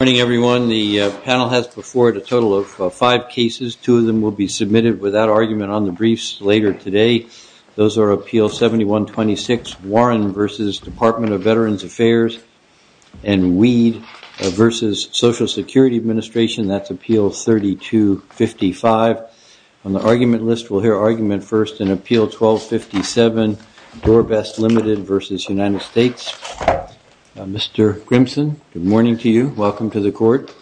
Good morning, everyone. The panel has before it a total of five cases. Two of them will be submitted without argument on the briefs later today. Those are Appeal 7126, Warren v. Department of Veterans Affairs, and Weed v. Social Security Administration. That's Appeal 3255. On the argument list, we'll hear argument first in Appeal 1257, Dorbest Limited v. United States. Mr. Grimson, good morning to you. Welcome to the Court.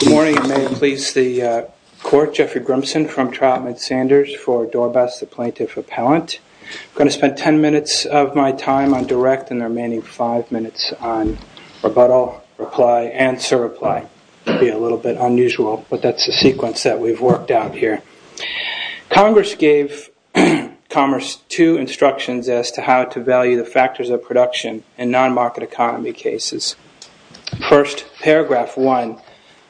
Good morning, and may it please the Court. Jeffrey Grimson from Trautman Sanders for Dorbest, the Plaintiff Appellant. I'm going to spend ten minutes of my time on direct and the remaining five minutes on rebuttal, reply, and surreply. It'll be a little bit unusual, but that's the sequence that we've worked out here. Congress gave Commerce two instructions as to how to value the factors of production in non-market economy cases. First, Paragraph 1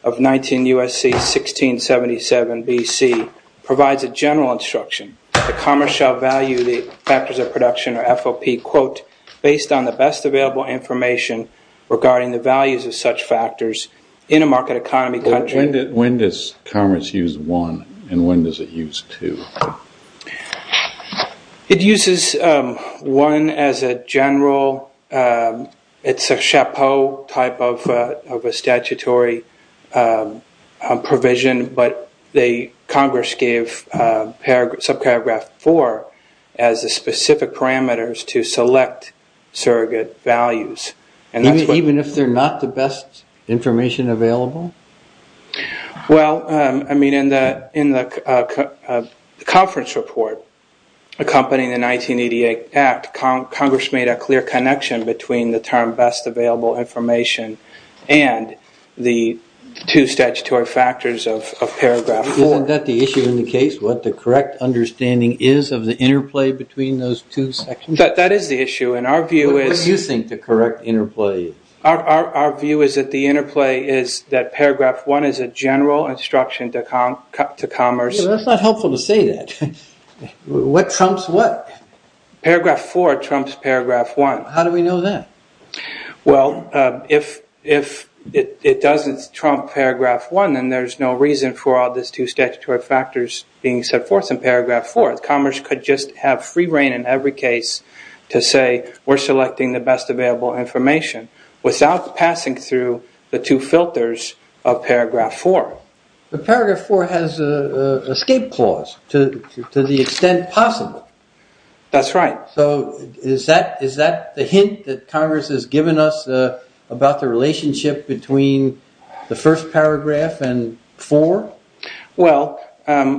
of 19 U.S.C. 1677 B.C. provides a general instruction that Commerce shall value the factors of production, or FOP, quote, based on the best available information regarding the values of such factors in a market economy country. When does Commerce use 1, and when does it use 2? It uses 1 as a general. It's a chapeau type of a statutory provision, but Congress gave subparagraph 4 as the specific parameters to select surrogate values. Even if they're not the best information available? Well, I mean, in the conference report accompanying the 1988 Act, Congress made a clear connection between the term best available information and the two statutory factors of paragraph 4. Isn't that the issue in the case, what the correct understanding is of the interplay between those two sections? What do you think the correct interplay is? Our view is that the interplay is that Paragraph 1 is a general instruction to Commerce. That's not helpful to say that. What trumps what? Paragraph 4 trumps Paragraph 1. How do we know that? Well, if it doesn't trump Paragraph 1, then there's no reason for all these two statutory factors being set forth in Paragraph 4. Commerce could just have free reign in every case to say we're selecting the best available information without passing through the two filters of Paragraph 4. But Paragraph 4 has an escape clause to the extent possible. That's right. So is that the hint that Congress has given us about the relationship between the first paragraph and 4? Well,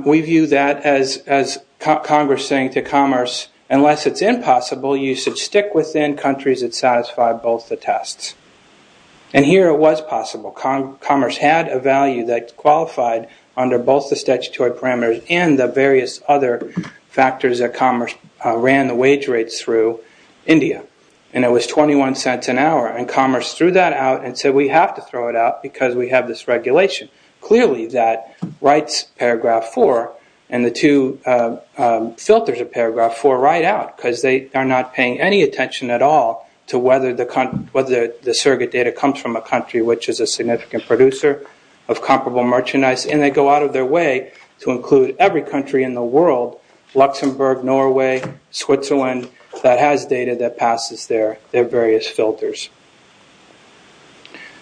we view that as Congress saying to Commerce, unless it's impossible, you should stick within countries that satisfy both the tests. And here it was possible. Commerce had a value that qualified under both the statutory parameters and the various other factors that Commerce ran the wage rates through India. And it was $0.21 an hour. And Commerce threw that out and said we have to throw it out because we have this regulation. Clearly, that writes Paragraph 4 and the two filters of Paragraph 4 right out because they are not paying any attention at all to whether the surrogate data comes from a country which is a significant producer of comparable merchandise. And they go out of their way to include every country in the world, Luxembourg, Norway, Switzerland, that has data that passes their various filters.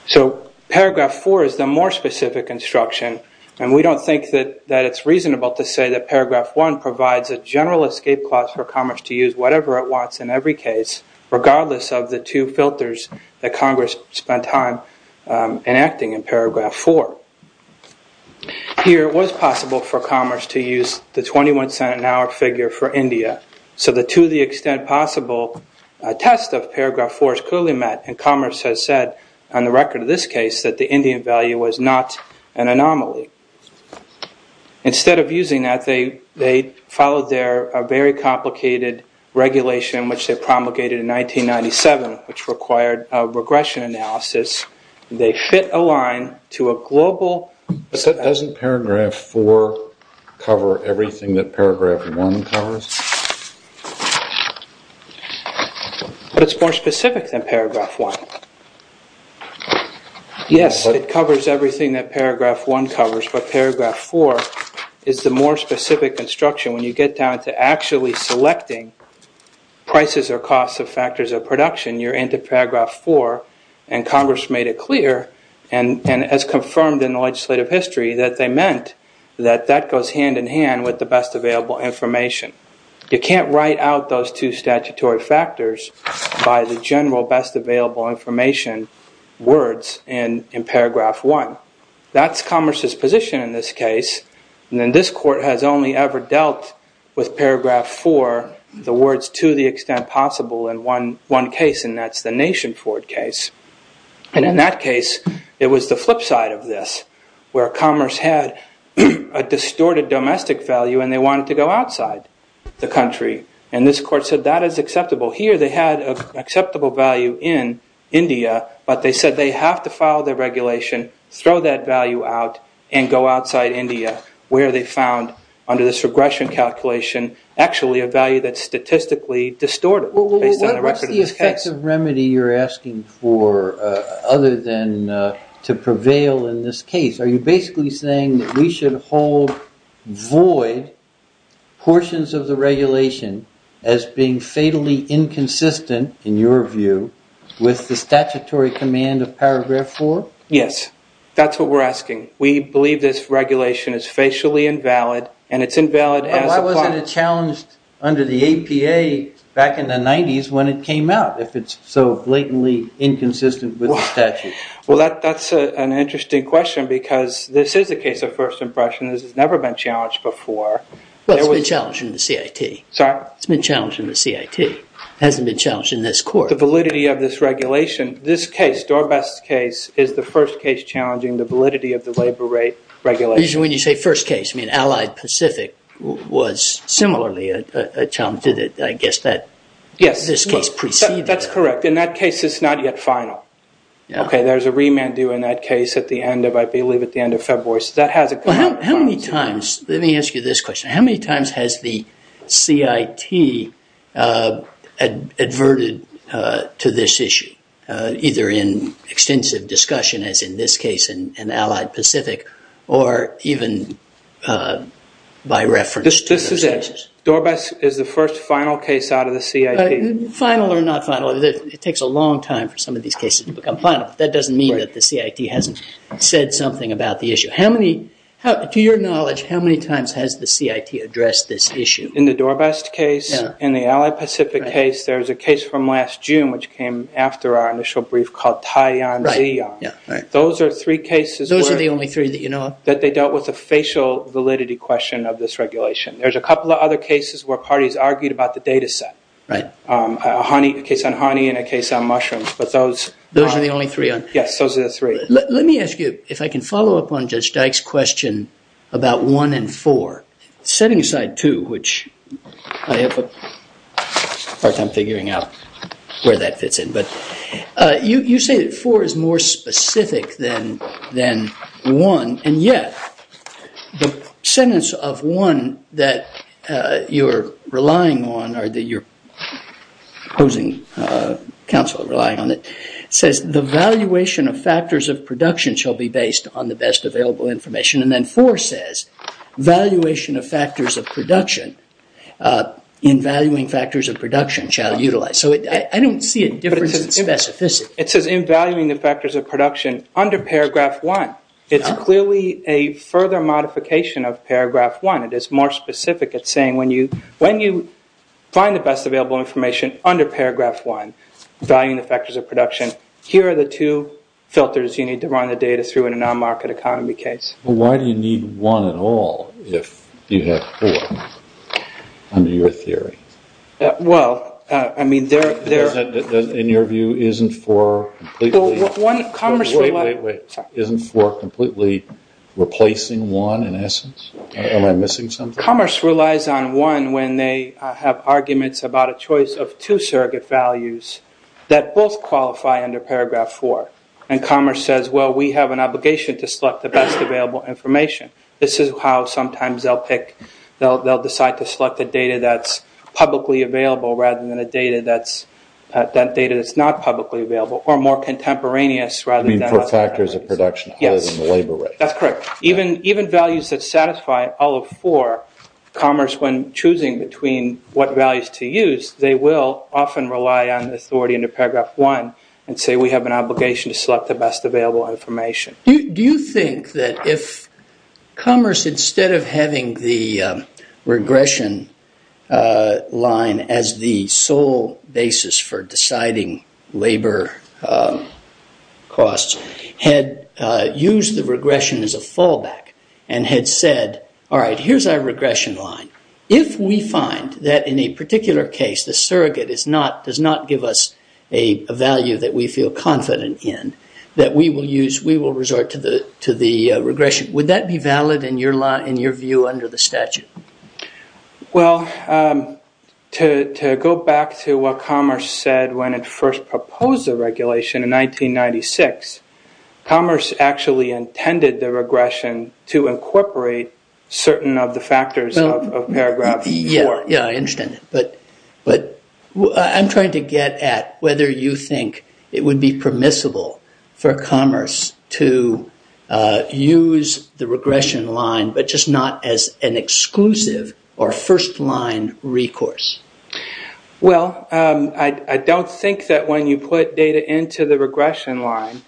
So Paragraph 4 is the more specific instruction. And we don't think that it's reasonable to say that Paragraph 1 provides a general escape clause for Commerce to use whatever it wants in every case, regardless of the two filters that Congress spent time enacting in Paragraph 4. Here it was possible for Commerce to use the $0.21 an hour figure for India. So to the extent possible, a test of Paragraph 4 is clearly met. And Commerce has said on the record of this case that the Indian value was not an anomaly. Instead of using that, they followed their very complicated regulation, which they promulgated in 1997, which required a regression analysis. They fit a line to a global… But doesn't Paragraph 4 cover everything that Paragraph 1 covers? It's more specific than Paragraph 1. Yes, it covers everything that Paragraph 1 covers, but Paragraph 4 is the more specific instruction. When you get down to actually selecting prices or costs of factors of production, you're into Paragraph 4. And Commerce made it clear and has confirmed in the legislative history that they meant that that goes hand-in-hand with the best available information. You can't write out those two statutory factors by the general best available information words in Paragraph 1. That's Commerce's position in this case. And this court has only ever dealt with Paragraph 4, the words to the extent possible in one case, and that's the Nation Ford case. And in that case, it was the flip side of this, where Commerce had a distorted domestic value and they wanted to go outside the country. And this court said that is acceptable. Here, they had an acceptable value in India, but they said they have to file the regulation, throw that value out, and go outside India, where they found, under this regression calculation, actually a value that's statistically distorted. Well, what are the effects of remedy you're asking for, other than to prevail in this case? Are you basically saying that we should hold void portions of the regulation as being fatally inconsistent, in your view, with the statutory command of Paragraph 4? Yes, that's what we're asking. We believe this regulation is facially invalid, and it's invalid. Why wasn't it challenged under the APA back in the 90s when it came out, if it's so blatantly inconsistent with the statute? Well, that's an interesting question, because this is a case of first impression. This has never been challenged before. Well, it's been challenged in the CIT. Sorry? It's been challenged in the CIT. It hasn't been challenged in this court. The validity of this regulation, this case, Dorbass's case, is the first case challenging the validity of the labor rate regulation. Usually when you say first case, you mean Allied Pacific was similarly a challenge. I guess that this case preceded it. Yes, that's correct. In that case, it's not yet final. Okay, there's a remand due in that case at the end of, I believe, at the end of February. Let me ask you this question. How many times has the CIT adverted to this issue, either in extensive discussion, as in this case in Allied Pacific, or even by reference to the census? Dorbass is the first final case out of the CIT. Final or not final, it takes a long time for some of these cases to become final. That doesn't mean that the CIT hasn't said something about the issue. To your knowledge, how many times has the CIT addressed this issue? In the Dorbass case, in the Allied Pacific case, there's a case from last June, which came after our initial brief, called Taayan Bayan. Those are three cases that they dealt with the facial validity question of this regulation. There's a couple of other cases where parties argued about the data set, a case on honey and a case on mushrooms. Those are the only three? Yes, those are the three. Let me ask you, if I can follow up on Judge Dyke's question about one and four. Setting aside two, which I have a hard time figuring out where that fits in. You say that four is more specific than one. Yet, the sentence of one that you're relying on, or that your opposing counsel is relying on, says, the valuation of factors of production shall be based on the best available information. Then four says, valuation of factors of production, in valuing factors of production, shall utilize. I don't see a difference in specificity. It says, in valuing the factors of production, under paragraph one. It's clearly a further modification of paragraph one. It is more specific. It's saying, when you find the best available information under paragraph one, valuing the factors of production, here are the two filters you need to run the data through in a non-market economy case. Why do you need one at all, if you have four, under your theory? In your view, isn't four completely replacing one, in essence? Am I missing something? Commerce relies on one when they have arguments about a choice of two surrogate values that both qualify under paragraph four. Commerce says, well, we have an obligation to select the best available information. This is how sometimes they'll pick, they'll decide to select the data that's publicly available, rather than a data that's not publicly available, or more contemporaneous, rather than other. You mean for factors of production, holding the labor rate. Yes, that's correct. Even values that satisfy all of four, commerce, when choosing between what values to use, they will often rely on authority under paragraph one, and say, we have an obligation to select the best available information. Do you think that if commerce, instead of having the regression line as the sole basis for deciding labor costs, had used the regression as a fallback, and had said, all right, here's our regression line. If we find that in a particular case, the surrogate does not give us a value that we feel confident in, that we will use, we will resort to the regression. Would that be valid in your view under the statute? Well, to go back to what commerce said when it first proposed the regulation in 1996, commerce actually intended the regression to incorporate certain of the factors of paragraph four. Yeah, I understand that. But I'm trying to get at whether you think it would be permissible for commerce to use the regression line, but just not as an exclusive or first line recourse. Well, I don't think that when you put data into the regression line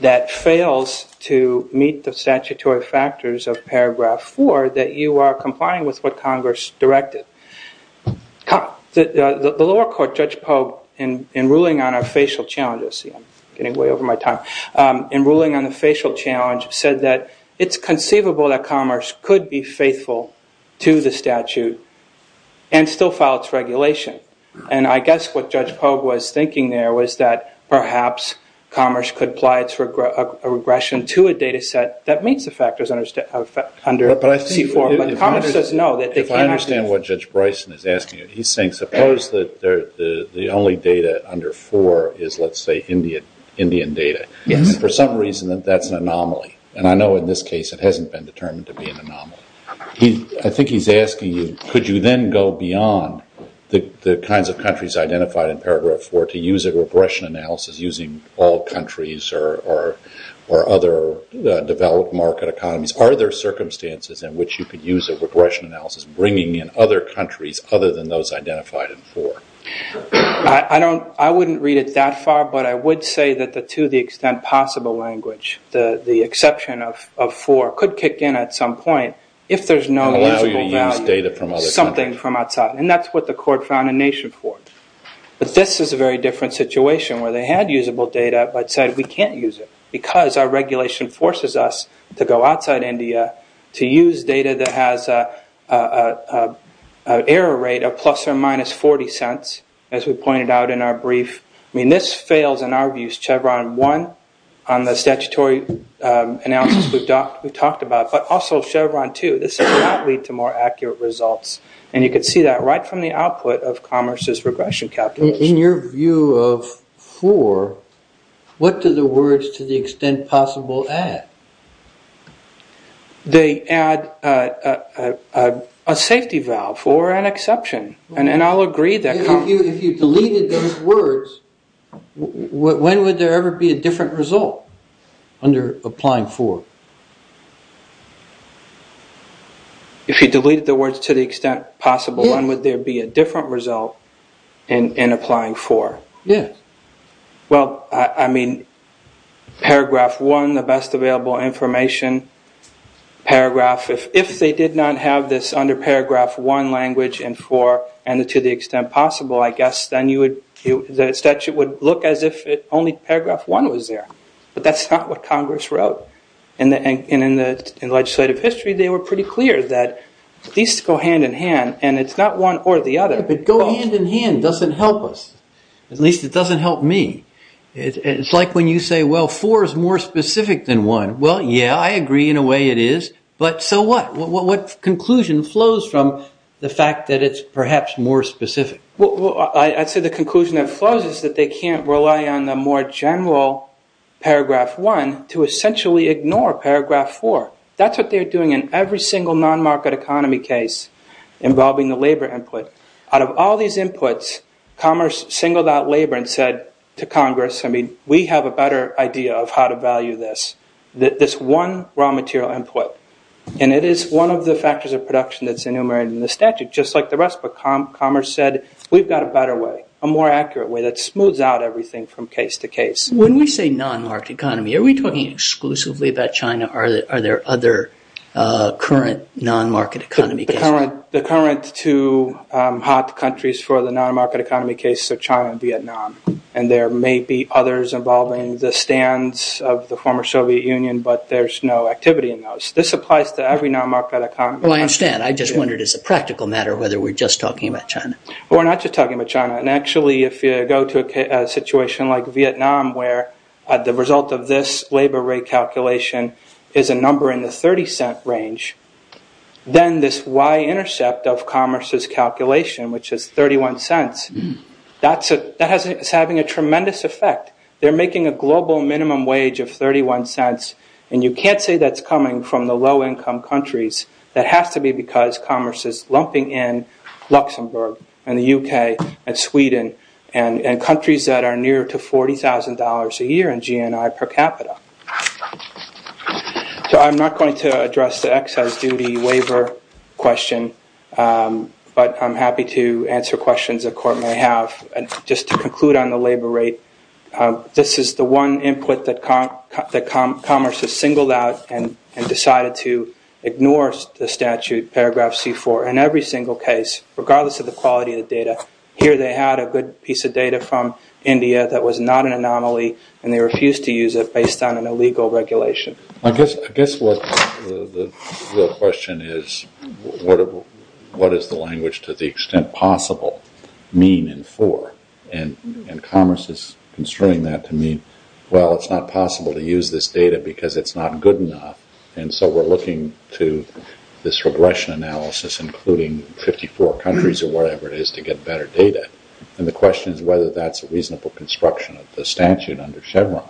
that fails to meet the statutory factors of paragraph four, that you are complying with what Congress directed. The lower court, Judge Pogue, in ruling on our facial challenges, I'm getting way over my time, in ruling on the facial challenge, said that it's conceivable that commerce could be faithful to the statute and still file its regulation. And I guess what Judge Pogue was thinking there was that perhaps commerce could apply a regression to a data set that meets the factors under it. I understand what Judge Bryson is asking. He's saying suppose that the only data under four is, let's say, Indian data, and for some reason that that's an anomaly. And I know in this case it hasn't been determined to be an anomaly. I think he's asking you could you then go beyond the kinds of countries identified in paragraph four to use a regression analysis using all countries or other developed market economies? Are there circumstances in which you could use a regression analysis bringing in other countries other than those identified in four? I wouldn't read it that far, but I would say that to the extent possible language, the exception of four could kick in at some point if there's no meaningful knowledge of something from outside. And that's what the court found in Nation Court. But this is a very different situation where they had usable data but said we can't use it because our regulation forces us to go outside India to use data that has an error rate of plus or minus 40 cents, as we pointed out in our brief. I mean, this fails in our views. Chevron one on the statutory analysis we talked about, but also Chevron two. This does not lead to more accurate results. And you could see that right from the output of Commerce's regression calculus. In your view of four, what do the words to the extent possible add? They add a safety valve for an exception, and I'll agree that. If you deleted those words, when would there ever be a different result under applying four? If you deleted the words to the extent possible, when would there be a different result in applying four? Yes. Well, I mean, paragraph one, the best available information, paragraph, if they did not have this under paragraph one language in four and to the extent possible, I guess then the statute would look as if only paragraph one was there. But that's not what Congress wrote. And in legislative history, they were pretty clear that at least go hand in hand, and it's not one or the other. But going hand in hand doesn't help us. At least it doesn't help me. It's like when you say, well, four is more specific than one. Well, yeah, I agree. In a way, it is. But so what? What conclusion flows from the fact that it's perhaps more specific? I'd say the conclusion that flows is that they can't rely on the more general paragraph one to essentially ignore paragraph four. That's what they're doing in every single non-market economy case involving the labor input. Out of all these inputs, Commerce singled out labor and said to Congress, I mean, we have a better idea of how to value this, this one raw material input. And it is one of the factors of production that's enumerated in the statute, just like the rest of Commerce said, we've got a better way, a more accurate way that smooths out everything from case to case. When we say non-market economy, are we talking exclusively about China or are there other current non-market economy cases? The current two hot countries for the non-market economy cases are China and Vietnam. And there may be others involving the stands of the former Soviet Union, but there's no activity in those. This applies to every non-market economy. Well, I understand. I just wondered as a practical matter whether we're just talking about China. We're not just talking about China. And actually, if you go to a situation like Vietnam where the result of this labor rate calculation is a number in the $0.30 range, then this y-intercept of Commerce's calculation, which is $0.31, that's having a tremendous effect. They're making a global minimum wage of $0.31, and you can't say that's coming from the low-income countries. That has to be because Commerce is lumping in Luxembourg and the U.K. and Sweden and countries that are near to $40,000 a year in GNI per capita. So I'm not going to address the excise duty waiver question, but I'm happy to answer questions the court may have. Just to conclude on the labor rate, this is the one input that Commerce has singled out and decided to ignore the statute, paragraph C-4, in every single case, regardless of the quality of the data. Here they had a good piece of data from India that was not an anomaly, and they refused to use it based on an illegal regulation. I guess the real question is, what does the language, to the extent possible, mean in 4? And Commerce is constraining that to mean, well, it's not possible to use this data because it's not good enough, and so we're looking to this regression analysis, including 54 countries or whatever it is, to get better data. And the question is whether that's a reasonable construction of the statute under Chevron.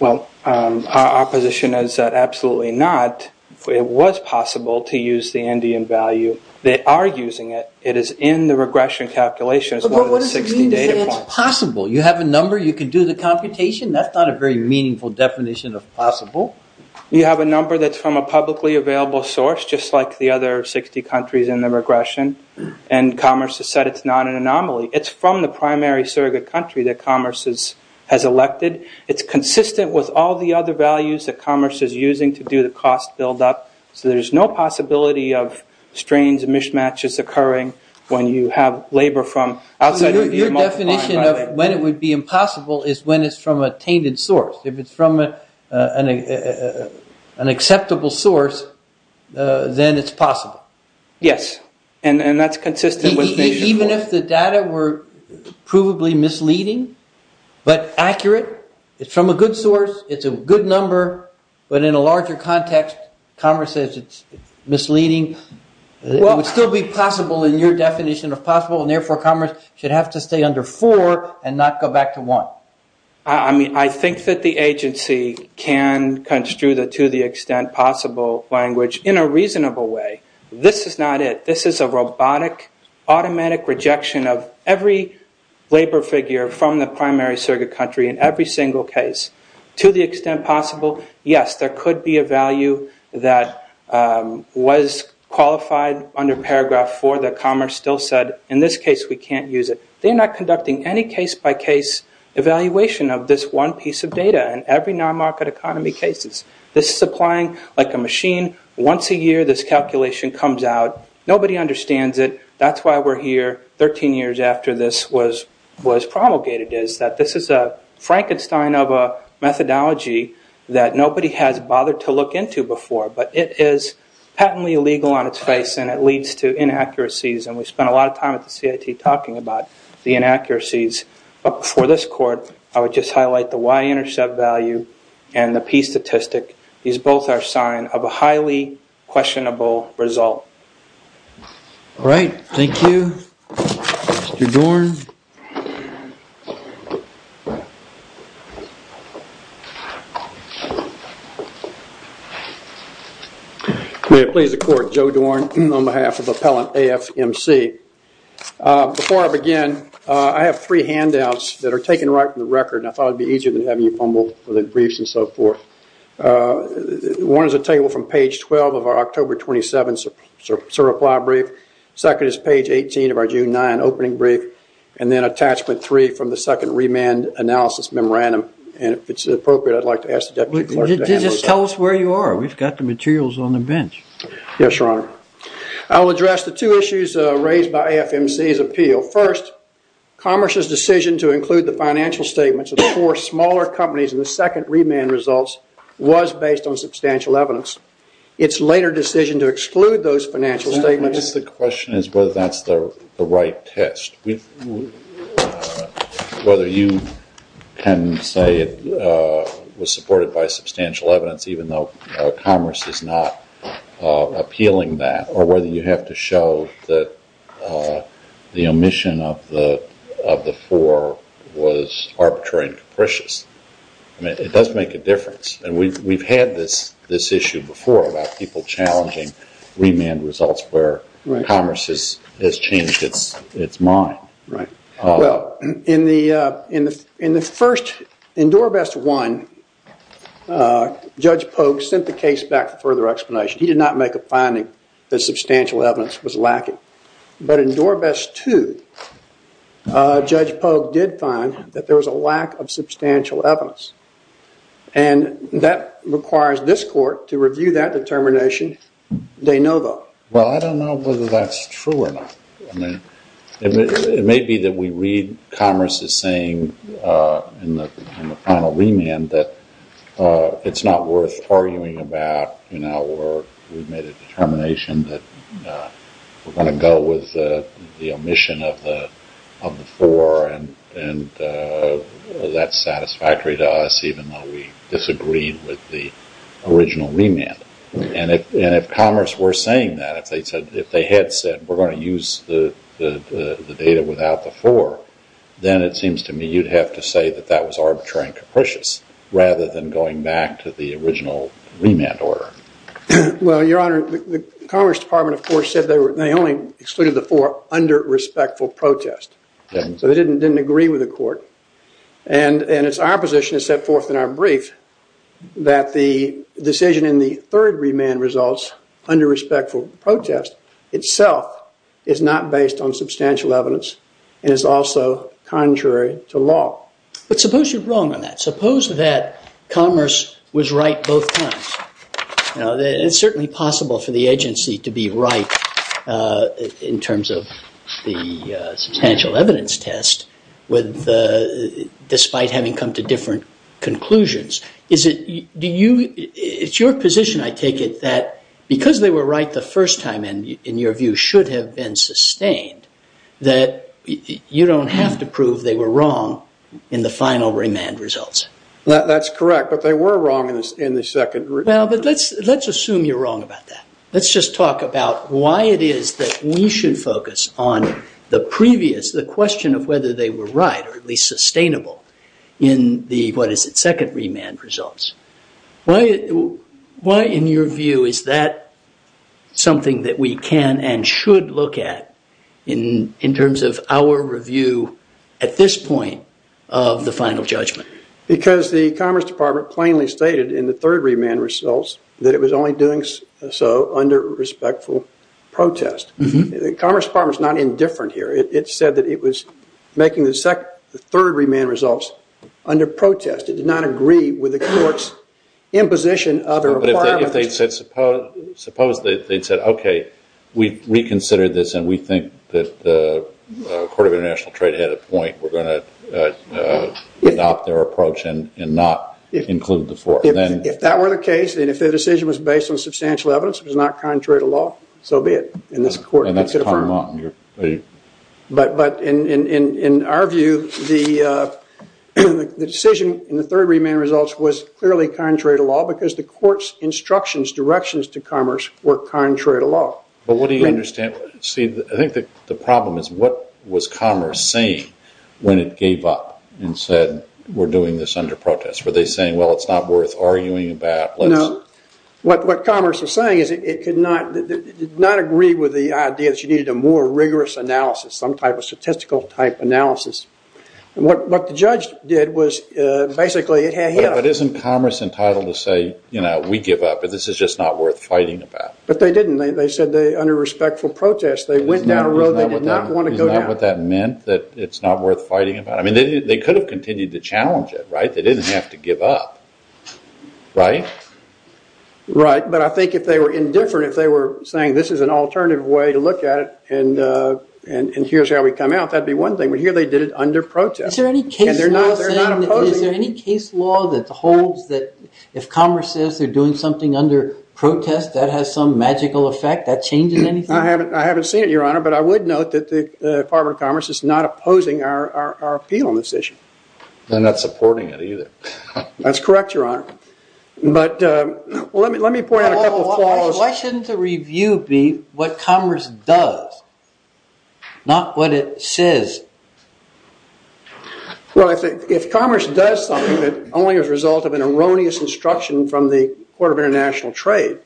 Well, our position is that absolutely not. It was possible to use the Indian value. They are using it. It is in the regression calculations. But what does it mean that it's possible? You have a number. You can do the computation. That's not a very meaningful definition of possible. You have a number that's from a publicly available source, It's from the primary surrogate country that Commerce has elected. It's consistent with all the other values that Commerce is using to do the cost buildup, so there's no possibility of strains and mismatches occurring when you have labor from outside of your multiple... Your definition of when it would be impossible is when it's from a tainted source. If it's from an acceptable source, then it's possible. Yes, and that's consistent with... Even if the data were provably misleading, but accurate, it's from a good source, it's a good number, but in a larger context, Commerce says it's misleading, it would still be possible in your definition of possible, and therefore Commerce should have to stay under four and not go back to one. I mean, I think that the agency can construe the to-the-extent-possible language in a reasonable way. This is not it. This is a robotic, automatic rejection of every labor figure from the primary surrogate country in every single case. To the extent possible, yes, there could be a value that was qualified under paragraph four that Commerce still said, in this case, we can't use it. They're not conducting any case-by-case evaluation of this one piece of data in every non-market economy cases. This is applying like a machine. Once a year, this calculation comes out. Nobody understands it. That's why we're here 13 years after this was promulgated, is that this is a Frankenstein of a methodology that nobody has bothered to look into before, but it is patently illegal on its face, and it leads to inaccuracies, and we spent a lot of time at the CIT talking about the inaccuracies. For this court, I would just highlight the Y-intercept value and the P-statistic. These both are signs of a highly questionable result. All right. Thank you. Mr. Dorn? I'm going to plead the court, Joe Dorn, on behalf of Appellant AFMC. Before I begin, I have three handouts that are taken right from the record, and I thought it would be easier than having you pummel the briefs and so forth. One is a table from page 12 of our October 27th reply brief. The second is page 18 of our June 9th opening brief, and then attachment three from the second remand analysis memorandum, and if it's appropriate, I'd like to ask the deputy clerk to hand those out. Just tell us where you are. We've got the materials on the bench. I'll address the two issues raised by AFMC's appeal. First, Commerce's decision to include the financial statements of four smaller companies in the second remand results was based on substantial evidence. Its later decision to exclude those financial statements— The question is whether that's the right test. Whether you can say it was supported by substantial evidence, even though Commerce is not appealing that, or whether you have to show that the omission of the four was arbitrary and capricious. I mean, it does make a difference, and we've had this issue before about people challenging remand results where Commerce has changed its mind. Right. Well, in the first, in DoorVest 1, Judge Polk sent the case back for further explanation. He did not make a finding that substantial evidence was lacking. But in DoorVest 2, Judge Polk did find that there was a lack of substantial evidence, and that requires this court to review that determination. They know, though. Well, I don't know whether that's true or not. It may be that we read Commerce's saying in the final remand that it's not worth arguing about, or we've made a determination that we're going to go with the omission of the four, and that's satisfactory to us even though we disagree with the original remand. Right. And if Commerce were saying that, if they had said we're going to use the data without the four, then it seems to me you'd have to say that that was arbitrary and capricious rather than going back to the original remand order. Well, Your Honor, the Commerce Department, of course, said they only excluded the four under respectful protest. Right. So they didn't agree with the court. And it's our position to set forth in our brief that the decision in the third remand results under respectful protest itself is not based on substantial evidence and is also contrary to law. But suppose you're wrong on that. Suppose that Commerce was right both times. It's certainly possible for the agency to be right in terms of the substantial evidence test despite having come to different conclusions. It's your position, I take it, that because they were right the first time, in your view, should have been sustained that you don't have to prove they were wrong in the final remand results. That's correct. But they were wrong in the second remand. Now, let's assume you're wrong about that. Let's just talk about why it is that we should focus on the previous, the question of whether they were right or at least sustainable in the, what is it, second remand results. Why, in your view, is that something that we can and should look at in terms of our review at this point of the final judgment? Because the Commerce Department plainly stated in the third remand results that it was only doing so under respectful protest. The Commerce Department's not indifferent here. It said that it was making the third remand results under protest. It did not agree with the court's imposition of a requirement. Suppose they said, okay, we reconsidered this and we think that the Court of International Trade had a point. We're going to adopt their approach and not include the court. If that were the case, and if their decision was based on substantial evidence which is not contrary to law, so be it in this court. And that's common law in your view. But in our view, the decision in the third remand results was clearly contrary to law because the court's instructions, directions to Commerce were contrary to law. But what do you understand, Steve? I think the problem is what was Commerce saying when it gave up and said we're doing this under protest? Were they saying, well, it's not worth arguing about? No. What Commerce is saying is it did not agree with the idea that you needed a more rigorous analysis, some type of statistical type analysis. What the judge did was basically hang him. But isn't Commerce entitled to say we give up and this is just not worth fighting about? But they didn't. They said under respectful protest, they went down a road they did not want to go down. Do you know what that meant, that it's not worth fighting about? They could have continued to challenge it, right? They didn't have to give up, right? Right, but I think if they were indifferent, if they were saying this is an alternative way to look at it and here's how we come out, that would be one thing. But here they did it under protest. Is there any case law that holds that if Commerce says they're doing something under protest, that has some magical effect, that changes anything? I haven't seen it, Your Honor, but I would note that the Department of Commerce is not opposing our appeal on this issue. They're not supporting it either. That's correct, Your Honor. But let me point out a couple of flaws. Why shouldn't the review be what Commerce does, not what it says? Well, if Commerce does something that's only a result of an erroneous instruction from the Court of International Trade,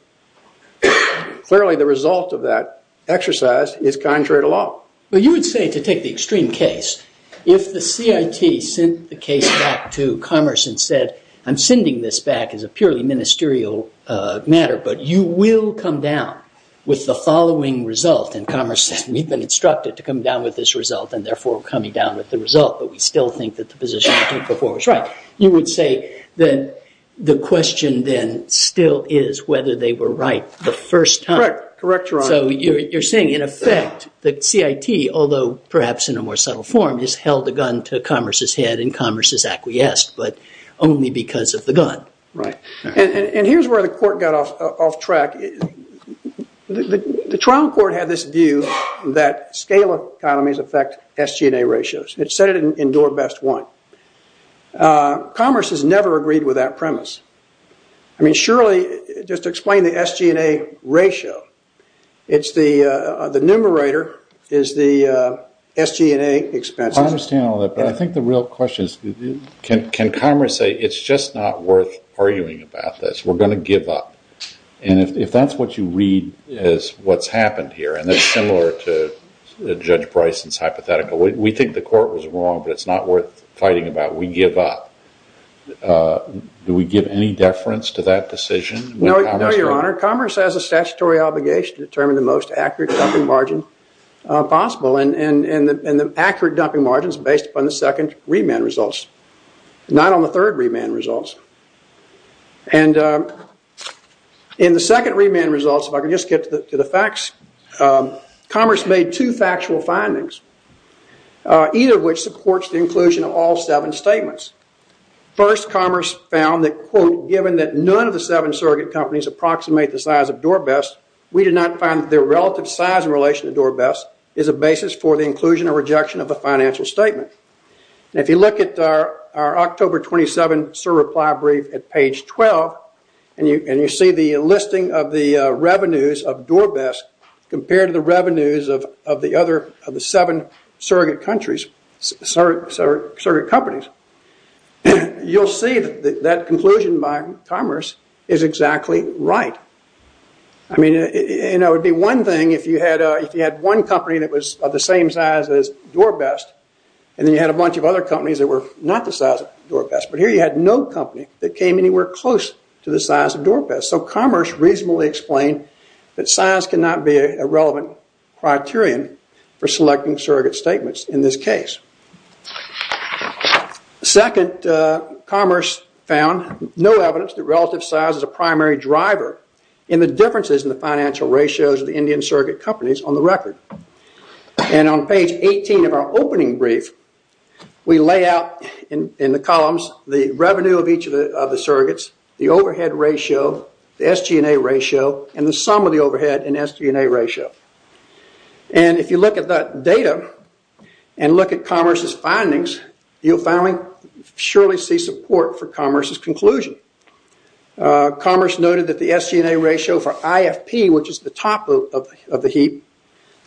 clearly the result of that exercise is contrary to law. But you would say, to take the extreme case, if the CIT sent the case back to Commerce and said, I'm sending this back as a purely ministerial matter, but you will come down with the following result, and Commerce has been instructed to come down with this result and therefore coming down with the result, but we still think that the position before was right, you would say that the question then still is whether they were right the first time. Correct, Your Honor. So you're saying, in effect, the CIT, although perhaps in a more subtle form, has held the gun to Commerce's head and Commerce has acquiesced, but only because of the gun. Right. And here's where the Court got off track. The trial court had this view that scale economies affect SG&A ratios. It said it endured best one. Commerce has never agreed with that premise. I mean, surely, just to explain the SG&A ratio, it's the numerator is the SG&A expense. I understand all that, but I think the real question is, can Commerce say, it's just not worth arguing about this. We're going to give up. And if that's what you read as what's happened here, and it's similar to Judge Price's hypothetical, we think the Court was wrong, but it's not worth fighting about. We give up. Do we give any deference to that decision? No, Your Honor. Commerce has a statutory obligation to determine the most accurate dumping margin possible, and the accurate dumping margin is based upon the second remand results, not on the third remand results. And in the second remand results, if I can just get to the facts, Commerce made two factual findings, either of which supports the inclusion of all seven statements. First, Commerce found that, quote, given that none of the seven surrogate companies approximate the size of Dorbest, we did not find that their relative size in relation to Dorbest is a basis for the inclusion or rejection of the financial statement. And if you look at our October 27 survey reply brief at page 12, and you see the listing of the revenues of Dorbest compared to the revenues of the other seven surrogate companies, you'll see that conclusion by Commerce is exactly right. I mean, it would be one thing if you had one company that was of the same size as Dorbest, and then you had a bunch of other companies that were not the size of Dorbest. But here you had no company that came anywhere close to the size of Dorbest. So Commerce reasonably explained that size cannot be a relevant criterion for selecting surrogate statements in this case. Second, Commerce found no evidence that relative size is a primary driver in the differences in the financial ratios of the Indian surrogate companies on the record. And on page 18 of our opening brief, we lay out in the columns the revenue of each of the surrogates, the overhead ratio, the SG&A ratio, and the sum of the overhead and SG&A ratio. And if you look at that data and look at Commerce's findings, you'll finally surely see support for Commerce's conclusion. Commerce noted that the SG&A ratio for IFP, which is the top of the heap,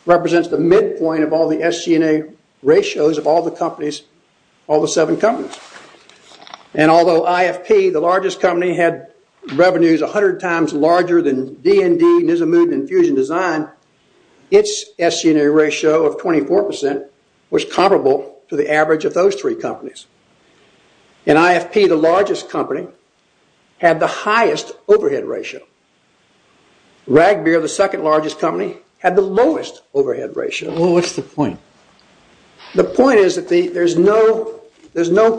represents the midpoint of all the SG&A ratios of all the companies, all the seven companies. And although IFP, the largest company, had revenues 100 times larger than D&D, and even as a move to infusion design, its SG&A ratio of 24% was comparable to the average of those three companies. And IFP, the largest company, had the highest overhead ratio. Ragbeer, the second largest company, had the lowest overhead ratio. Well, what's the point? The point is that there's no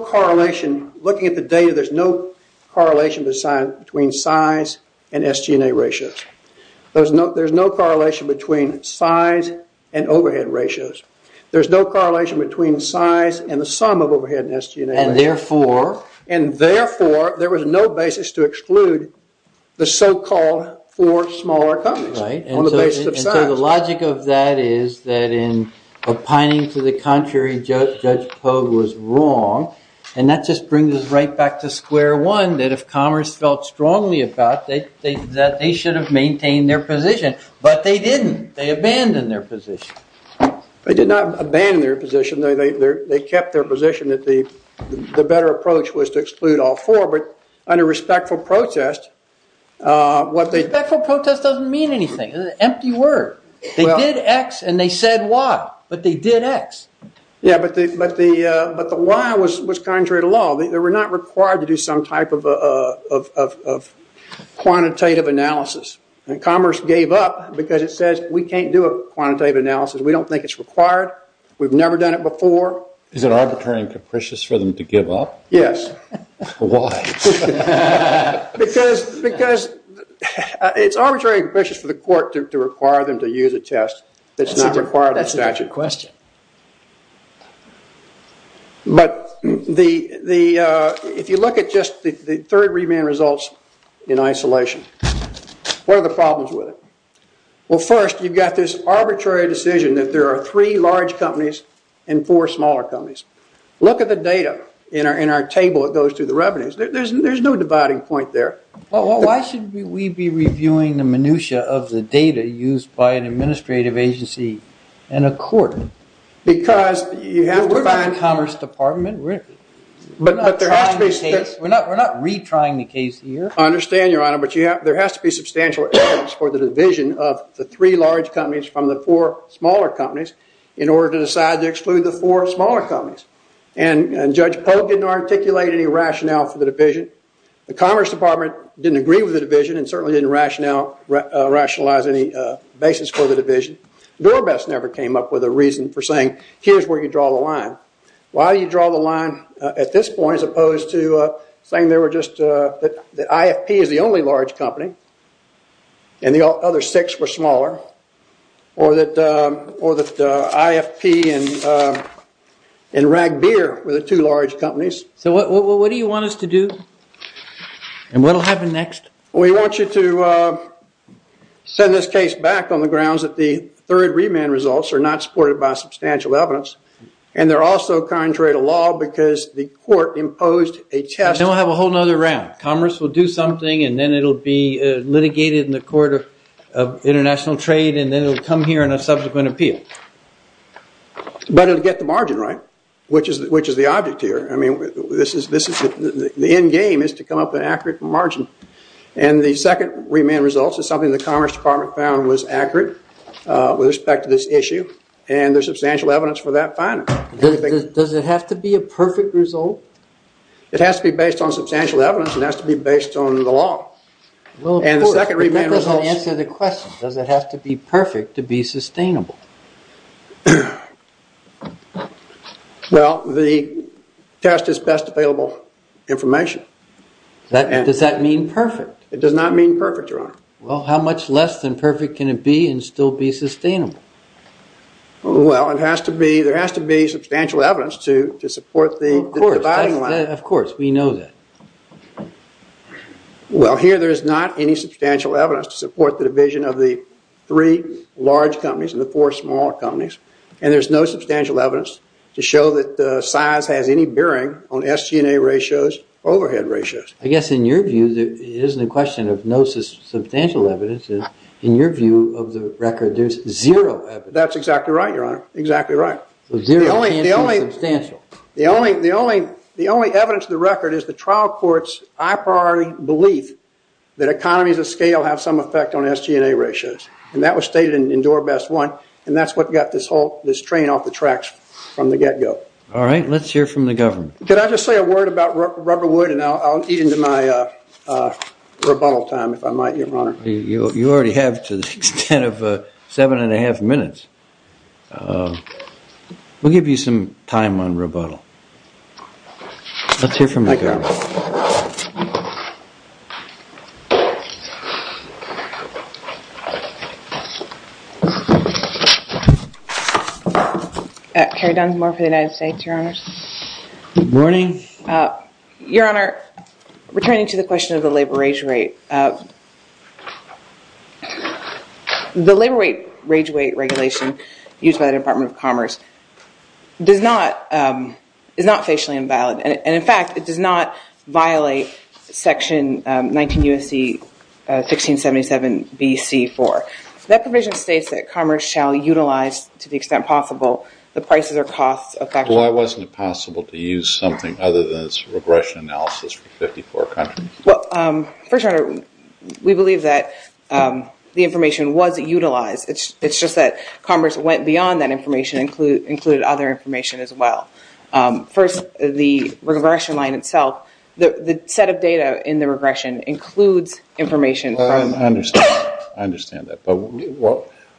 correlation. Looking at the data, there's no correlation between size and SG&A ratio. There's no correlation between size and overhead ratios. There's no correlation between size and the sum of overhead and SG&A ratio. And therefore? And therefore, there was no basis to exclude the so-called four smaller companies. Right. On the basis of size. And so the logic of that is that in opining to the contrary, Judge Pogue was wrong, and that just brings us right back to square one, that if Commerce felt strongly about it, that they should have maintained their position. But they didn't. They abandoned their position. They did not abandon their position. They kept their position that the better approach was to exclude all four. But under respectful protest, what they— Respectful protest doesn't mean anything. It's an empty word. They did X and they said Y. But they did X. Yeah, but the Y was contrary to law. They were not required to do some type of quantitative analysis. Commerce gave up because it says we can't do a quantitative analysis. We don't think it's required. We've never done it before. Is it arbitrary and capricious for them to give up? Yes. Why? Because it's arbitrary and capricious for the court to require them to use a test. That's an accurate question. But if you look at just the third remand results in isolation, what are the problems with it? Well, first, you've got this arbitrary decision that there are three large companies and four smaller companies. Look at the data in our table that goes through the revenues. There's no dividing point there. Well, why should we be reviewing the minutiae of the data used by an administrative agency and a court? Because you have— We're not the Commerce Department. But there has to be— We're not retrying the case here. I understand, Your Honor, but there has to be substantial evidence for the division of the three large companies from the four smaller companies in order to decide to exclude the four smaller companies. And Judge Poe didn't articulate any rationale for the division. The Commerce Department didn't agree with the division and certainly didn't rationalize any basis for the division. Norbest never came up with a reason for saying, here's where you draw the line. Why do you draw the line at this point as opposed to saying they were just— that IFP is the only large company and the other six were smaller, or that IFP and Rag Beer were the two large companies? So what do you want us to do? And what will happen next? We want you to send this case back on the grounds that the third remand results are not supported by substantial evidence. And they're also contrary to law because the court imposed a— Then we'll have a whole other round. Commerce will do something, and then it'll be litigated in the Court of International Trade, and then it'll come here in a subsequent appeal. Better to get the margin right, which is the object here. I mean, this is—the end game is to come up with an accurate margin. And the second remand results is something the Commerce Department found was accurate with respect to this issue, and there's substantial evidence for that finding. Does it have to be a perfect result? It has to be based on substantial evidence. It has to be based on the law. And the second remand results— Well, the test is best available information. Does that mean perfect? It does not mean perfect, Ron. Well, how much less than perfect can it be and still be sustainable? Well, it has to be—there has to be substantial evidence to support the dividing line. Of course, we know that. Well, here there is not any substantial evidence to support the division of the three large companies and the four smaller companies, and there's no substantial evidence to show that the size has any bearing on SG&A ratios, overhead ratios. I guess in your view, it isn't a question of no substantial evidence. In your view of the record, there's zero evidence. That's exactly right, Your Honor. Exactly right. Well, zero— The only evidence of the record is the trial court's high-priority belief that economies of scale have some effect on SG&A ratios. And that was stated in Door Best 1, and that's what got this train off the tracks from the get-go. All right. Let's hear from the government. Could I just say a word about rubberwood, and I'll eat into my rebuttal time, if I might, Your Honor. You already have to the extent of seven and a half minutes. We'll give you some time on rebuttal. Let's hear from the government. Thank you, Your Honor. Carrie Dunsmore for the United States, Your Honor. Good morning. Your Honor, returning to the question of the labor wage rate, the labor wage rate regulation used by the Department of Commerce is not facially invalid. And, in fact, it does not violate Section 19 U.S.C. 1677 B.C. 4. That provision states that commerce shall utilize, to the extent possible, the prices or costs of— Well, why wasn't it possible to use something other than its regression analysis for 54 countries? Well, Your Honor, we believe that the information was utilized. It's just that commerce went beyond that information and included other information as well. First, the regression line itself, the set of data in the regression includes information from— I understand. I understand that. But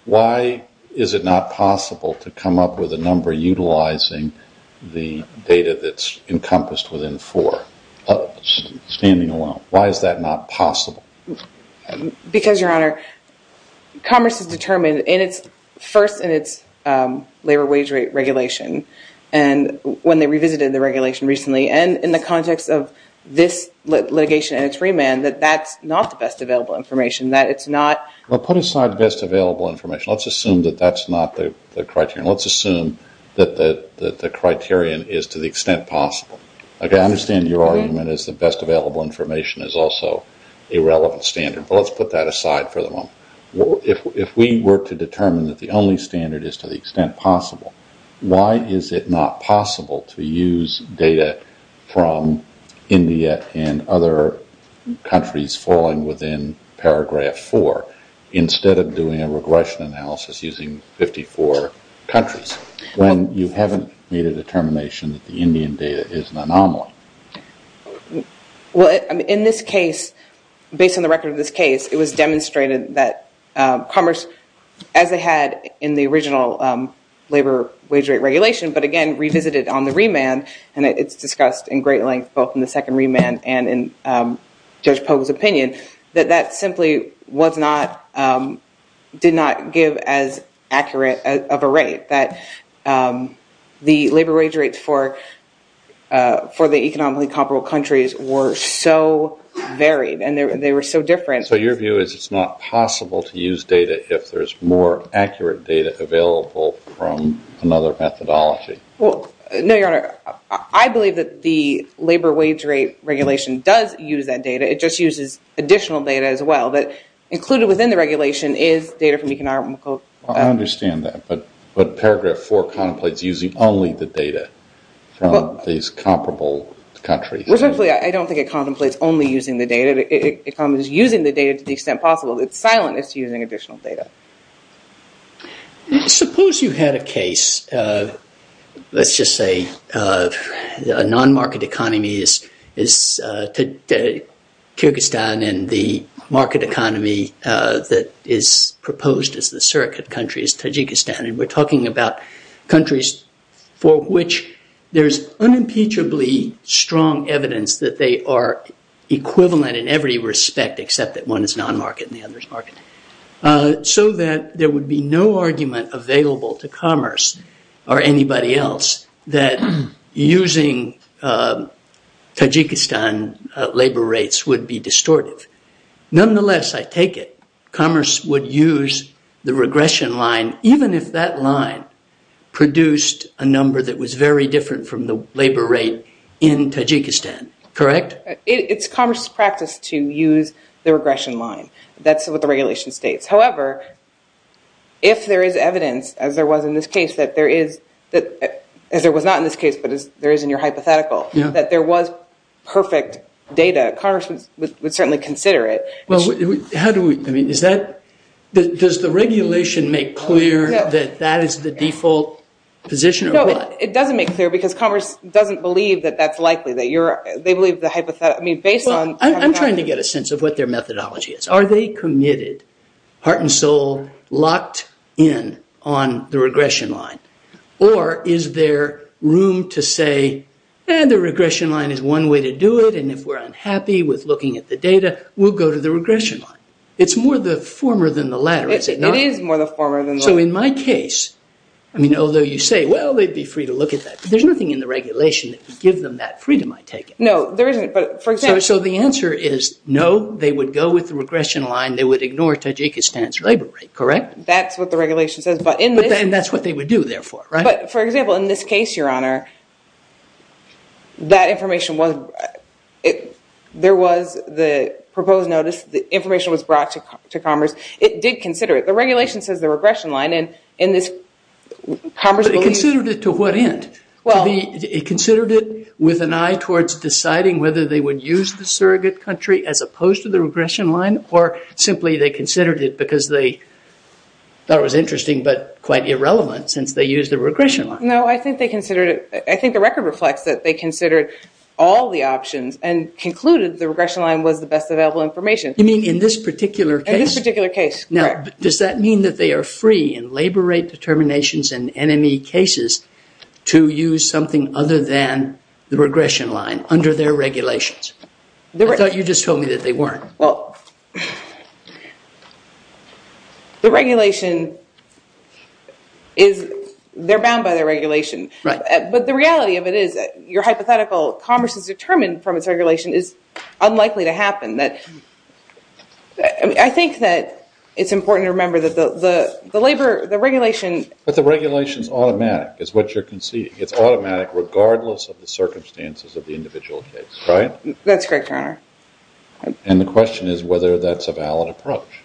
why is it not possible to come up with a number utilizing the data that's encompassed within four? Why is that not possible? Because, Your Honor, commerce has determined, first in its labor wage rate regulation, when they revisited the regulation recently, and in the context of this litigation and its remand, that that's not the best available information, that it's not— Well, put aside the best available information. Let's assume that that's not the criterion. Let's assume that the criterion is to the extent possible. I understand your argument is the best available information is also a relevant standard. Well, let's put that aside for the moment. If we were to determine that the only standard is to the extent possible, why is it not possible to use data from India and other countries falling within paragraph four instead of doing a regression analysis using 54 countries when you haven't made a determination that the Indian data is an anomaly? Well, in this case, based on the record of this case, it was demonstrated that commerce, as they had in the original labor wage rate regulation, but again, revisited it on the remand, and it's discussed in great length both in the second remand and in Judge Pogue's opinion, that that simply did not give as accurate of a rate. That the labor wage rates for the economically comparable countries were so varied, and they were so different. So your view is it's not possible to use data if there's more accurate data available from another methodology? Well, no, Your Honor. I believe that the labor wage rate regulation does use that data. It just uses additional data as well. But included within the regulation is data from economic— I understand that, but paragraph four contemplates using only the data from these comparable countries. Well, simply, I don't think it contemplates only using the data. It contemplates using the data to the extent possible. It's silent as to using additional data. Suppose you had a case, let's just say, a non-market economy, Kyrgyzstan and the market economy that is proposed as the surrogate country is Tajikistan, and we're talking about countries for which there's unimpeachably strong evidence that they are equivalent in every respect except that one is non-market and the other is market. So that there would be no argument available to commerce or anybody else that using Tajikistan labor rates would be distorted. Nonetheless, I take it, commerce would use the regression line even if that line produced a number that was very different from the labor rate in Tajikistan. Correct? It's commerce's practice to use the regression line. That's what the regulation states. However, if there is evidence, as there was in this case, as there was not in this case but there is in your hypothetical, that there was perfect data, commerce would certainly consider it. Does the regulation make clear that that is the default position? No, it doesn't make clear because commerce doesn't believe that that's likely. I'm trying to get a sense of what their methodology is. Are they committed, heart and soul, locked in on the regression line? Or is there room to say, and the regression line is one way to do it and if we're unhappy with looking at the data, we'll go to the regression line. It's more the former than the latter, is it not? It is more the former than the latter. So in my case, although you say, well, they'd be free to look at that. There's nothing in the regulation that would give them that freedom, I take it. No, there isn't. So the answer is, no, they would go with the regression line, they would ignore Tajikistan's labor rate, correct? That's what the regulation says. And that's what they would do, therefore, right? For example, in this case, Your Honor, that information was, there was the proposed notice, the information was brought to commerce. It did consider it. The regulation says the regression line and this commerce believes... But it considered it to what end? It considered it with an eye towards deciding whether they would use the surrogate country as opposed to the regression line or simply they considered it because they thought it was interesting but quite irrelevant since they used the regression line. No, I think they considered it. I think the record reflects that they considered all the options and concluded the regression line was the best available information. You mean in this particular case? In this particular case, correct. Does that mean that they are free in labor rate determinations and NME cases to use something other than the regression line under their regulations? I thought you just told me that they weren't. Well, the regulation is, they're bound by the regulation. Right. But the reality of it is your hypothetical commerce is determined from its regulation is unlikely to happen. I think that it's important to remember that the labor, the regulation... But the regulation is automatic is what you're conceding. It's automatic regardless of the circumstances of the individual case, right? That's correct, Your Honor. And the question is whether that's a valid approach.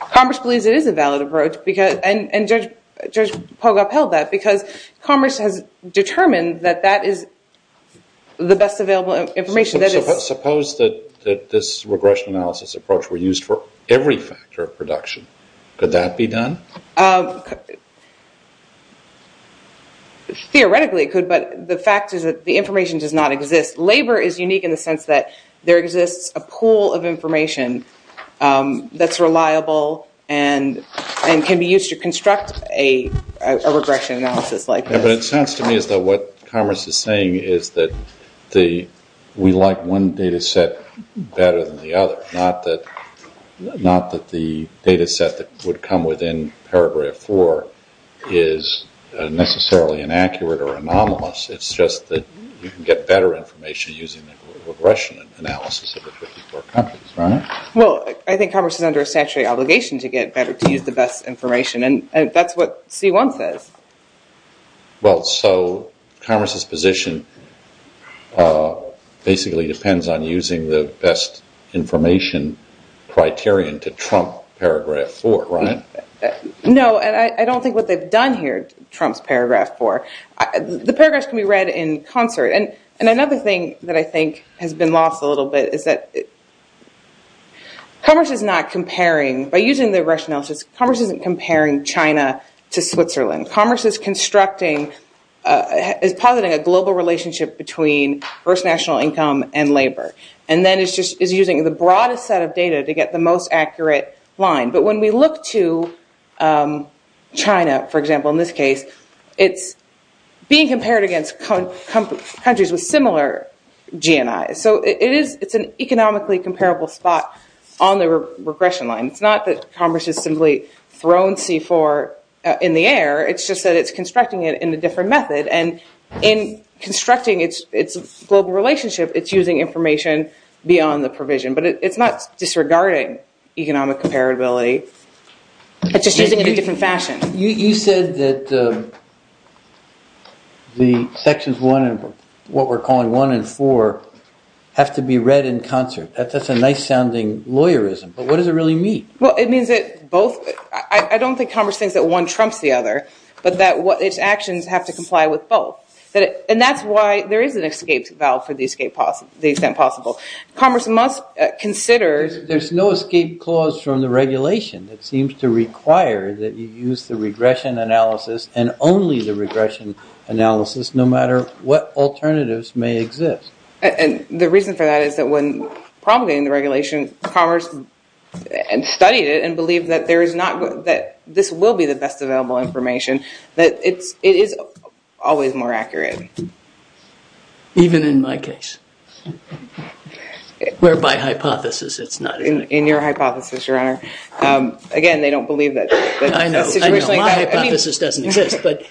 Commerce believes it is a valid approach and Judge Pogue upheld that because commerce has determined that that is the best available information. Suppose that this regression analysis approach were used for every factor of production. Could that be done? Theoretically it could, but the fact is that the information does not exist. Labor is unique in the sense that there exists a pool of information that's reliable and can be used to construct a regression analysis like this. But it sounds to me as though what commerce is saying is that we like one data set better than the other, not that the data set that would come within Paragraph 4 is necessarily inaccurate or anomalous. It's just that you can get better information using the regression analysis of the 54 countries, right? Well, I think commerce is under a statutory obligation to get better, to use the best information, and that's what C1 says. Well, so commerce's position basically depends on using the best information criterion to trump Paragraph 4, right? No, I don't think what they've done here trumps Paragraph 4. The paragraphs can be read in concert. And another thing that I think has been lost a little bit is that commerce is not comparing. By using the regression analysis, commerce isn't comparing China to Switzerland. Commerce is positing a global relationship between first national income and labor and then is using the broadest set of data to get the most accurate line. But when we look to China, for example, in this case, it's being compared against countries with similar GNI. So it's an economically comparable spot on the regression line. It's not that commerce has simply thrown C4 in the air. It's just that it's constructing it in a different method. And in constructing its global relationship, it's using information beyond the provision. But it's not disregarding economic comparability. It's just using it in a different fashion. You said that the Sections 1 and what we're calling 1 and 4 have to be read in concert. That's a nice-sounding lawyerism. But what does it really mean? Well, it means that both – I don't think commerce thinks that one trumps the other, but that its actions have to comply with both. And that's why there is an escape valve for the extent possible. Commerce must consider – There's no escape clause from the regulation that seems to require that you use the regression analysis and only the regression analysis, no matter what alternatives may exist. And the reason for that is that when promulgating the regulation, commerce studied it and believed that this will be the best available information, that it is always more accurate. Even in my case. Where, by hypothesis, it's not. In your hypothesis, Your Honor. Again, they don't believe that. I know. My hypothesis doesn't exist. But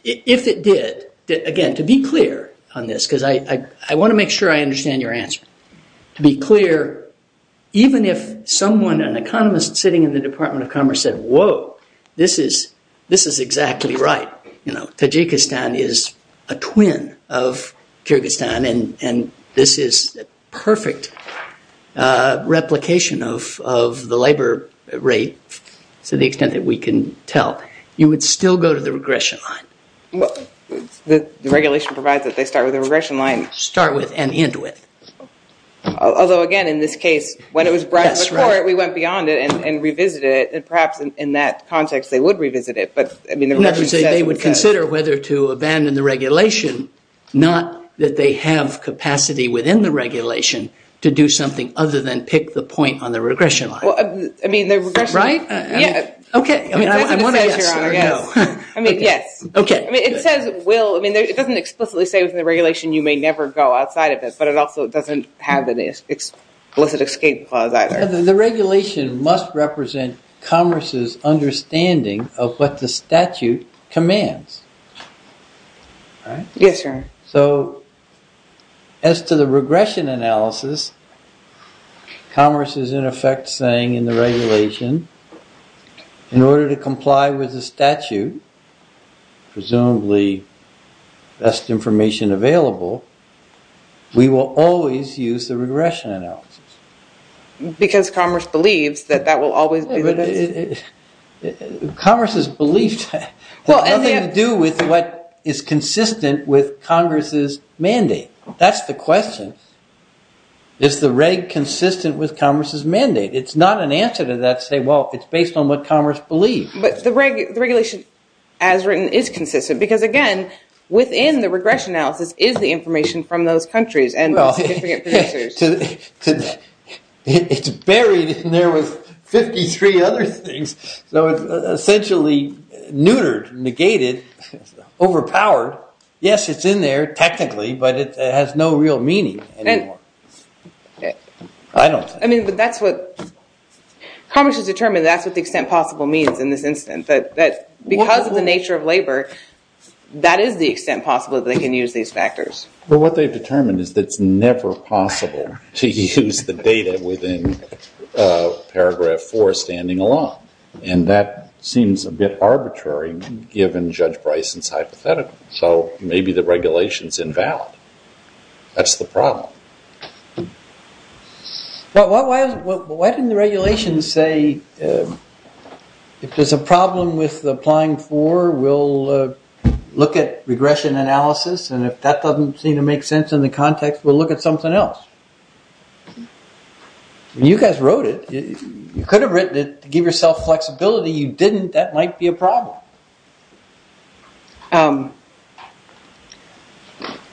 if it did, again, to be clear on this, because I want to make sure I understand your answer. To be clear, even if someone, an economist sitting in the Department of Commerce said, Whoa, this is exactly right. Tajikistan is a twin of Kyrgyzstan, and this is a perfect replication of the labor rate to the extent that we can tell. You would still go to the regression line. The regulation provides that they start with the regression line. Start with and end with. Although, again, in this case, when it was brought to court, we went beyond it and revisited it, and perhaps in that context they would revisit it. They would consider whether to abandon the regulation, not that they have capacity within the regulation to do something other than pick the point on the regression line. Right? Yes. Okay. I mean, yes. Okay. It doesn't explicitly say within the regulation you may never go outside of this, but it also doesn't have an explicit escape clause either. The regulation must represent commerce's understanding of what the statute commands. Right? Yes, sir. So as to the regression analysis, commerce is in effect saying in the regulation, in order to comply with the statute, presumably best information available, we will always use the regression analysis. Because commerce believes that that will always be the case. Commerce's belief has nothing to do with what is consistent with Congress's mandate. That's the question. Is the regulation consistent with Congress's mandate? It's not an answer to that to say, well, it's based on what commerce believes. But the regulation, as written, is consistent because, again, within the regression analysis is the information from those countries. Well, it's buried in there with 53 other things. So it's essentially neutered, negated, overpowered. Yes, it's in there technically, but it has no real meaning anymore. I mean, that's what commerce has determined. That's to the extent possible means in this instance. Because of the nature of labor, that is the extent possible that they can use these factors. But what they've determined is that it's never possible to use the data within Paragraph 4 standing alone. And that seems a bit arbitrary given Judge Price's hypothetical. So maybe the regulation's invalid. That's the problem. Why didn't the regulation say, if there's a problem with Applying 4, we'll look at regression analysis, and if that doesn't seem to make sense in the context, we'll look at something else? You guys wrote it. You could have written it to give yourself flexibility. That might be a problem.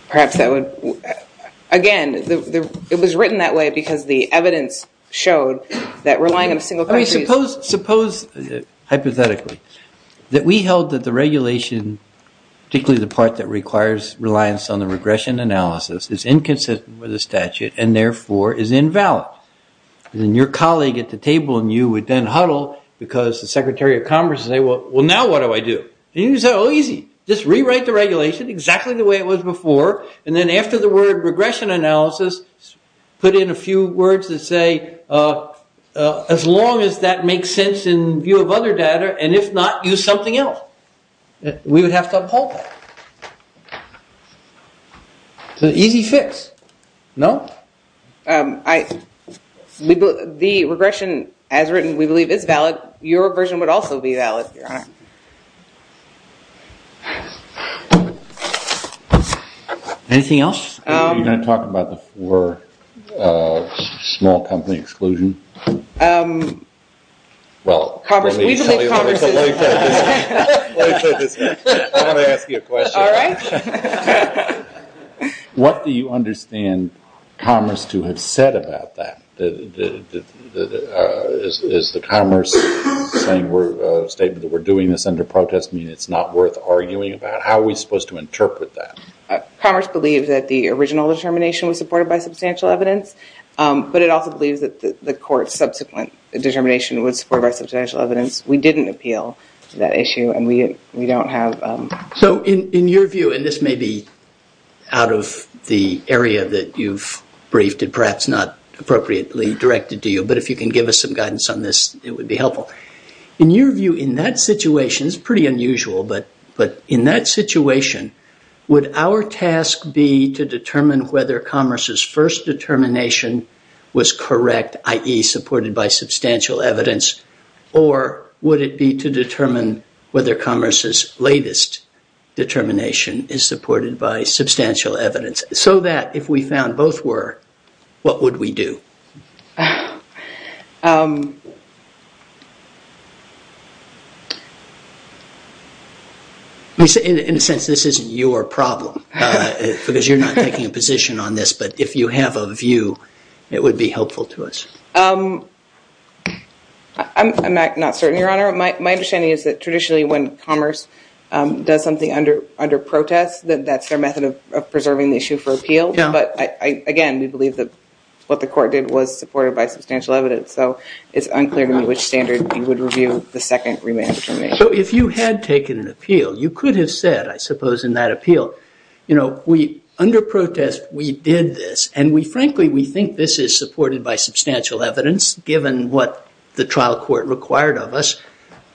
Perhaps that would... Again, it was written that way because the evidence showed that relying on single countries... Suppose, hypothetically, that we held that the regulation, particularly the part that requires reliance on the regression analysis, is inconsistent with the statute and therefore is invalid. And your colleague at the table and you would then huddle because the Secretary of Commerce would say, Well, now what do I do? And you would say, Oh, easy. Just rewrite the regulation exactly the way it was before, and then after the word regression analysis, put in a few words that say, as long as that makes sense in view of other data, and if not, use something else. We would have some hope. It's an easy fix. No? The regression, as written, we believe is valid. Your version would also be valid, Your Honor. Anything else? You're going to talk about the four small company exclusions? Commerce. I'm going to ask you a question. All right. What do you understand Commerce to have said about that? Is the Commerce statement that we're doing this under protest mean it's not worth arguing about? How are we supposed to interpret that? Commerce believes that the original determination was supported by substantial evidence, but it also believes that the court's subsequent determination was supported by substantial evidence. We didn't appeal to that issue, and we don't have... So in your view, and this may be out of the area that you've briefed, and perhaps not appropriately directed to you, but if you can give us some guidance on this, it would be helpful. In your view, in that situation, it's pretty unusual, but in that situation, would our task be to determine whether Commerce's first determination was correct, i.e., supported by substantial evidence, or would it be to determine whether Commerce's latest determination is supported by substantial evidence, so that if we found both were, what would we do? In a sense, this isn't your problem, because you're not taking a position on this, but if you have a view, it would be helpful to us. I'm not certain, Your Honor. My understanding is that traditionally when Commerce does something under protest, that's their method of preserving the issue for appeal, but again, we believe that what the court did was supported by substantial evidence, so it's unclear to me which standard you would review the second remand determination. So if you had taken an appeal, you could have said, I suppose, in that appeal, you know, under protest, we did this, and frankly, we think this is supported by substantial evidence, given what the trial court required of us,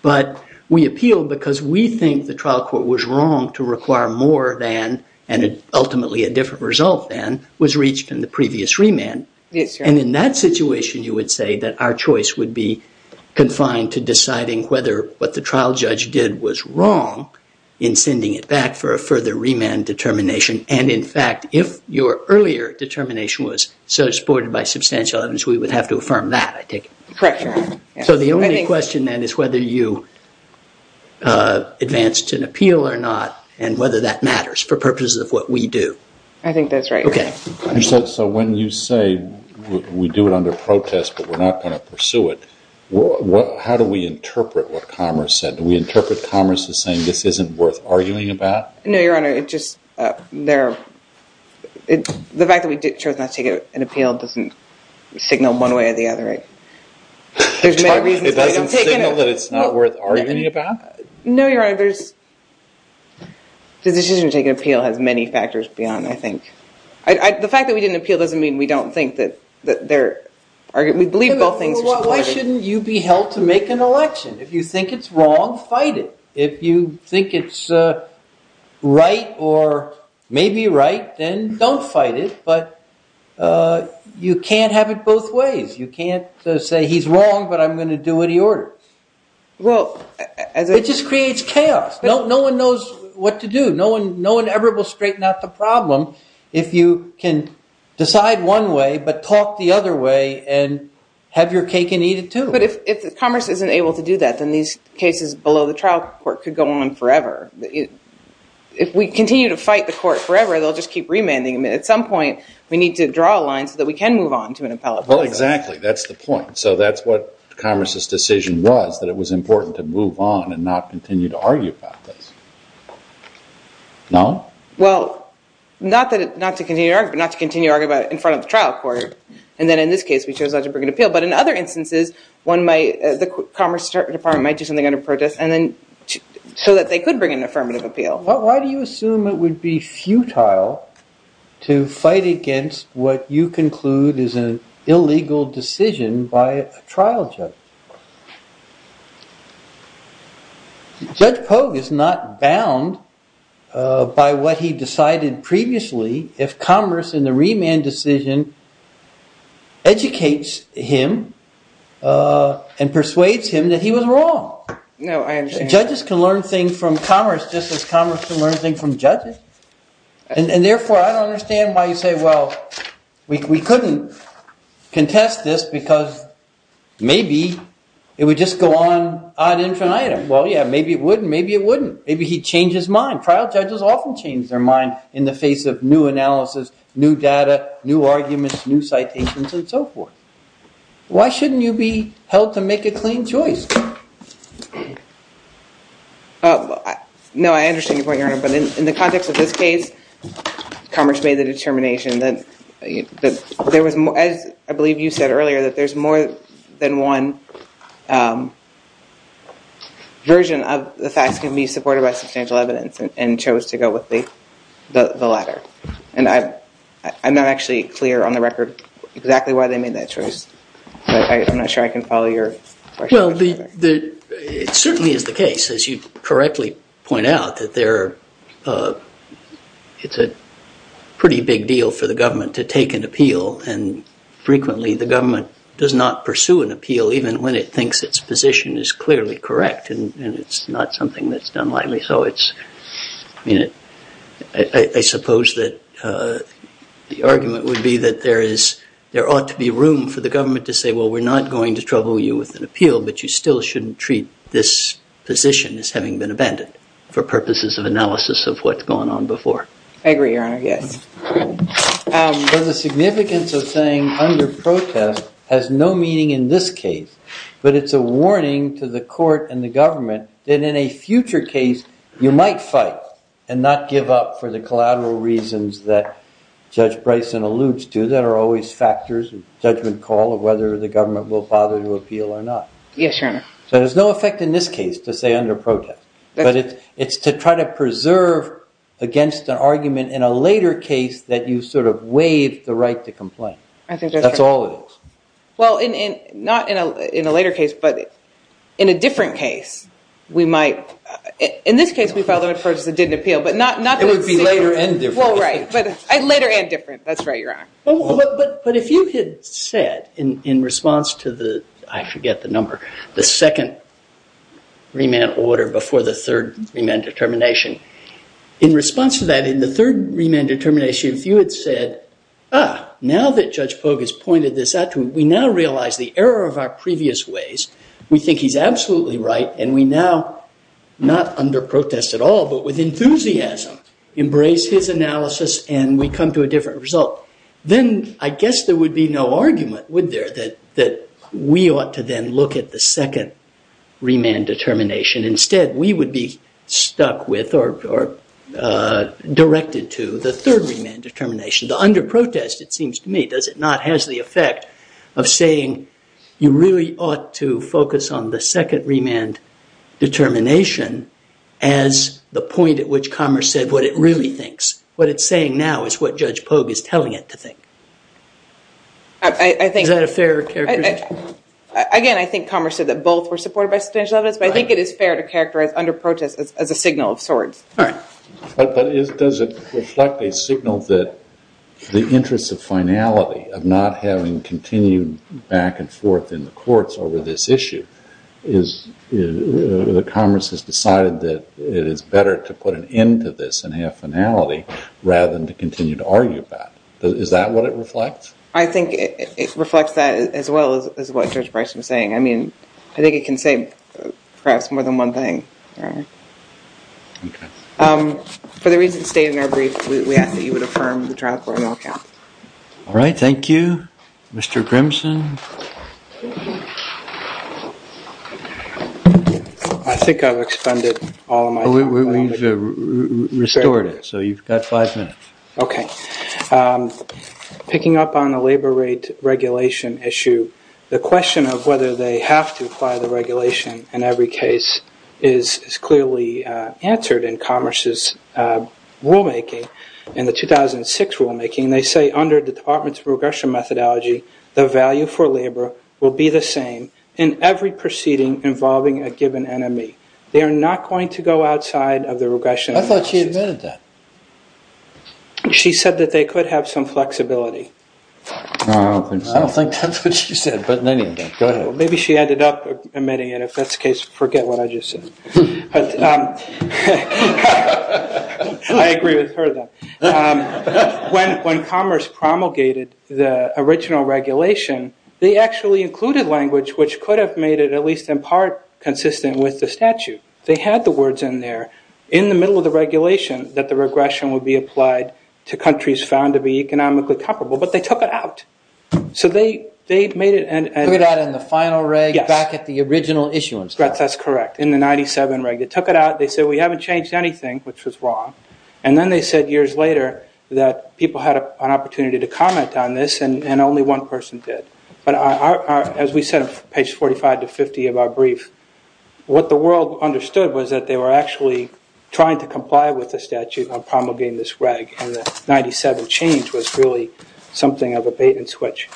but we appealed because we think the trial court was wrong to require more than, and ultimately a different result than, was reached in the previous remand, and in that situation, you would say that our choice would be confined to deciding whether what the trial judge did was wrong in sending it back for a further remand determination, and in fact, if your earlier determination was supported by substantial evidence, we would have to affirm that, I take it? Correct, Your Honor. So the only question then is whether you advanced an appeal or not, and whether that matters for purposes of what we do. I think that's right. Okay. So when you say we do it under protest, but we're not going to pursue it, how do we interpret what Commerce said? Do we interpret Commerce as saying this isn't worth arguing about? No, Your Honor, it just, the fact that we chose not to take an appeal doesn't signal one way or the other. It doesn't signal that it's not worth arguing about? No, Your Honor, the decision to take an appeal has many factors beyond, I think. The fact that we didn't appeal doesn't mean we don't think that there are, we believe both things. Why shouldn't you be held to make an election? If you think it's wrong, fight it. If you think it's right or maybe right, then don't fight it, but you can't have it both ways. You can't say he's wrong, but I'm going to do what he orders. It just creates chaos. No one knows what to do. No one ever will straighten out the problem if you can decide one way but talk the other way and have your cake and eat it, too. But if Commerce isn't able to do that, then these cases below the trial court could go on forever. If we continue to fight the court forever, they'll just keep remanding them. At some point, we need to draw a line so that we can move on to an appellate court. Well, exactly. That's the point. So that's what Commerce's decision was, that it was important to move on and not continue to argue about this. No? Well, not to continue to argue about it in front of the trial court. And then in this case, we chose not to bring an appeal. But in other instances, the Commerce Department might do something under protest so that they could bring an affirmative appeal. Why do you assume it would be futile to fight against what you conclude is an illegal decision by a trial judge? Judge Kogue is not bound by what he decided previously if Commerce in the remand decision educates him and persuades him that he was wrong. No, I understand. Judges can learn things from Commerce just as Commerce can learn things from judges. And therefore, I don't understand why you say, well, we couldn't contest this because maybe it would just go on on infinite items. Well, yeah, maybe it wouldn't. Maybe it wouldn't. Maybe he'd change his mind. Trial judges often change their mind in the face of new analysis, new data, new arguments, new citations, and so forth. Why shouldn't you be held to make a clean choice? No, I understand your point, Your Honor. But in the context of this case, Commerce made the determination that there was more, as I believe you said earlier, that there's more than one version of the facts that can be supported by substantial evidence and chose to go with the latter. I'm not actually clear on the record exactly why they made that choice, but I'm not sure I can follow your question. Well, it certainly is the case, as you correctly point out, that it's a pretty big deal for the government to take an appeal, and frequently the government does not pursue an appeal even when it thinks its position is clearly correct and it's not something that's done lightly. I suppose that the argument would be that there ought to be room for the government to say, well, we're not going to trouble you with an appeal, but you still shouldn't treat this position as having been abandoned for purposes of analysis of what's gone on before. I agree, Your Honor, yes. But the significance of saying under protest has no meaning in this case, but it's a warning to the court and the government that in a future case you might fight and not give up for the collateral reasons that Judge Bryson alludes to. There are always factors of judgment call of whether the government will bother to appeal or not. Yes, Your Honor. So there's no effect in this case to say under protest, but it's to try to preserve against an argument in a later case that you sort of waive the right to complain. I think that's right. That's all it is. Well, not in a later case, but in a different case, we might. In this case, we've got law enforcement that did an appeal, but not... It would be later and different. Well, right, but later and different. That's right, Your Honor. But if you had said in response to the, I forget the number, the second remand order before the third remand determination, in response to that, in the third remand determination, if you had said, ah, now that Judge Boggess pointed this out to me, we now realize the error of our previous ways, we think he's absolutely right, and we now, not under protest at all, but with enthusiasm, embrace his analysis and we come to a different result, then I guess there would be no argument, would there, that we ought to then look at the second remand determination. Instead, we would be stuck with or directed to the third remand determination. Under protest, it seems to me, does it not, has the effect of saying, you really ought to focus on the second remand determination as the point at which Commerce said what it really thinks. What it's saying now is what Judge Boggess is telling it to think. I think... Is that a fair characterization? Again, I think Commerce said that both were supportive of this, but I think it is fair to characterize under protest as a signal of sorts. But does it reflect a signal that the interest of finality, of not having continued back and forth in the courts over this issue, is that Commerce has decided that it is better to put an end to this and have finality rather than to continue to argue about it. Is that what it reflects? I think it reflects that as well as what Judge Bryson is saying. I mean, I think it can say perhaps more than one thing. Okay. For the reasons stated in our brief, we ask that you would affirm the trial court will count. All right, thank you. Mr. Grimson? I think I've extended all my time. We've restored it, so you've got five minutes. Okay. Picking up on the labor rate regulation issue, the question of whether they have to apply the regulation in every case is clearly answered in Commerce's rulemaking, in the 2006 rulemaking. They say under the Department's regression methodology, the value for labor will be the same in every proceeding involving a given enemy. They are not going to go outside of the regression. I thought she admitted that. She said that they could have some flexibility. No, I don't think so. I don't think that's what she said, but anyway, go ahead. Maybe she ended up admitting it. If that's the case, forget what I just said. I agree with her, though. When Commerce promulgated the original regulation, they actually included language which could have made it at least in part consistent with the statute. They had the words in there in the middle of the regulation that the regression would be applied to countries found to be economically comparable, but they took it out. So they made it end. Put it out in the final reg back at the original issuance. That's correct, in the 97 reg. They took it out. They said we haven't changed anything, which was wrong. Then they said years later that people had an opportunity to comment on this, and only one person did. But as we said, page 45 to 50 of our brief, what the world understood was that they were actually trying to comply with the statute on promulgating this reg, and the 97 change was really something of a bait and switch.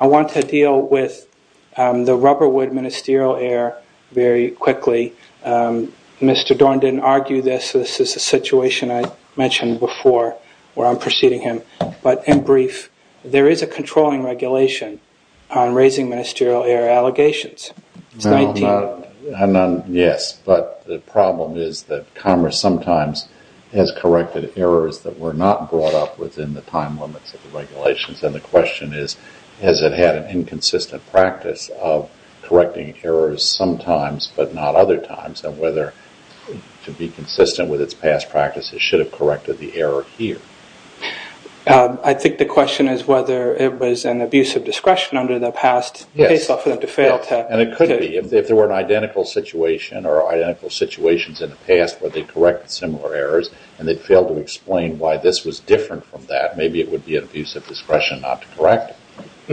I want to deal with the rubberwood ministerial error very quickly. Mr. Dorn didn't argue this. This is the situation I mentioned before where I'm preceding him. But in brief, there is a controlling regulation on raising ministerial error allegations. Yes, but the problem is that Congress sometimes has corrected errors that were not brought up within the time limits of the regulations, and the question is has it had an inconsistent practice of correcting errors sometimes but not other times, and whether to be consistent with its past practices should have corrected the error here. I think the question is whether it was an abuse of discretion under the past And it could be. If there were an identical situation or identical situations in the past where they corrected similar errors, and they failed to explain why this was different from that, maybe it would be an abuse of discretion not to correct it.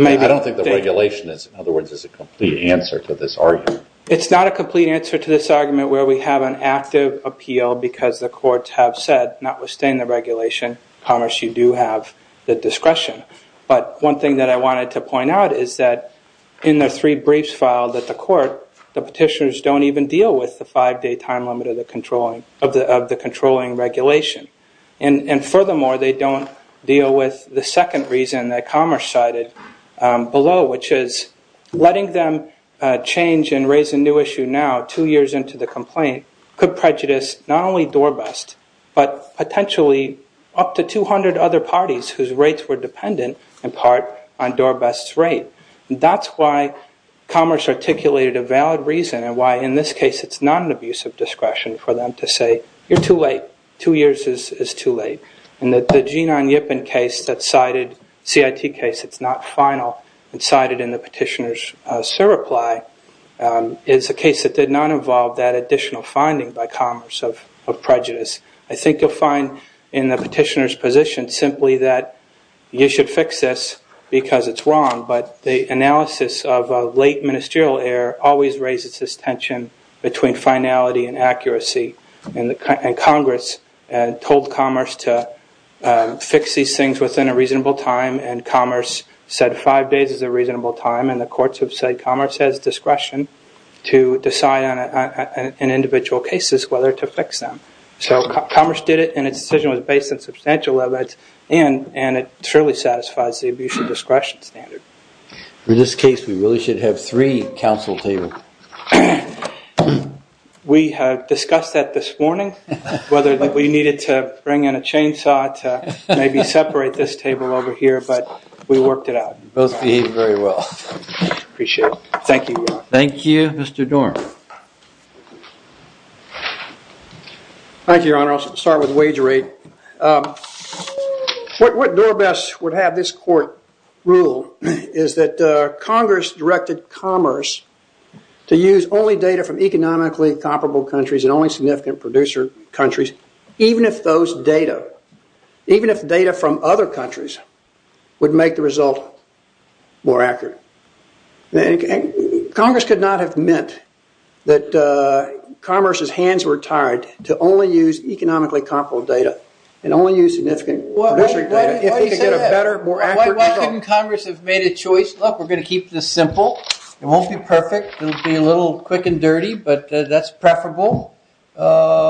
I don't think the regulation, in other words, is a complete answer to this argument. It's not a complete answer to this argument where we have an active appeal because the courts have said not withstanding the regulation, Congress, you do have the discretion. But one thing that I wanted to point out is that in the three briefs filed at the court, the petitioners don't even deal with the five-day time limit of the controlling regulation. And furthermore, they don't deal with the second reason that Congress cited below, which is letting them change and raise a new issue now, two years into the complaint, could prejudice not only Dorbust but potentially up to 200 other parties whose rates were dependent, in part, on Dorbust's rate. And that's why Congress articulated a valid reason and why, in this case, it's not an abuse of discretion for them to say, you're too late. Two years is too late. And that the Gene Onyipin case that's cited, CIT case, it's not final and cited in the petitioner's surreply, is a case that did not involve that additional finding by Congress of prejudice. I think you'll find in the petitioner's position simply that you should fix this because it's wrong. But the analysis of late ministerial error always raises this tension between finality and accuracy. And Congress told Commerce to fix these things within a reasonable time, and Commerce said five days is a reasonable time. And the courts have said Commerce has discretion to decide on individual cases whether to fix them. So Commerce did it, and its decision was based on substantial evidence, and it surely satisfies the abuse of discretion standard. In this case, we really should have three counsels here. We have discussed that this morning, whether we needed to bring in a chainsaw to maybe separate this table over here, but we worked it out. You both behaved very well. Appreciate it. Thank you. Thank you, Mr. Dorn. Thank you, Your Honor. I'll start with wage rate. What Dorbess would have this court rule is that Congress directed Commerce to use only data from economically comparable countries and only significant producer countries, even if those data, even if data from other countries would make the result more accurate. Congress could not have meant that Commerce's hands were tied to only use economically comparable data and only use significant. Why couldn't Congress have made a choice? Look, we're going to keep this simple. It won't be perfect. It'll be a little quick and dirty, but that's preferable, and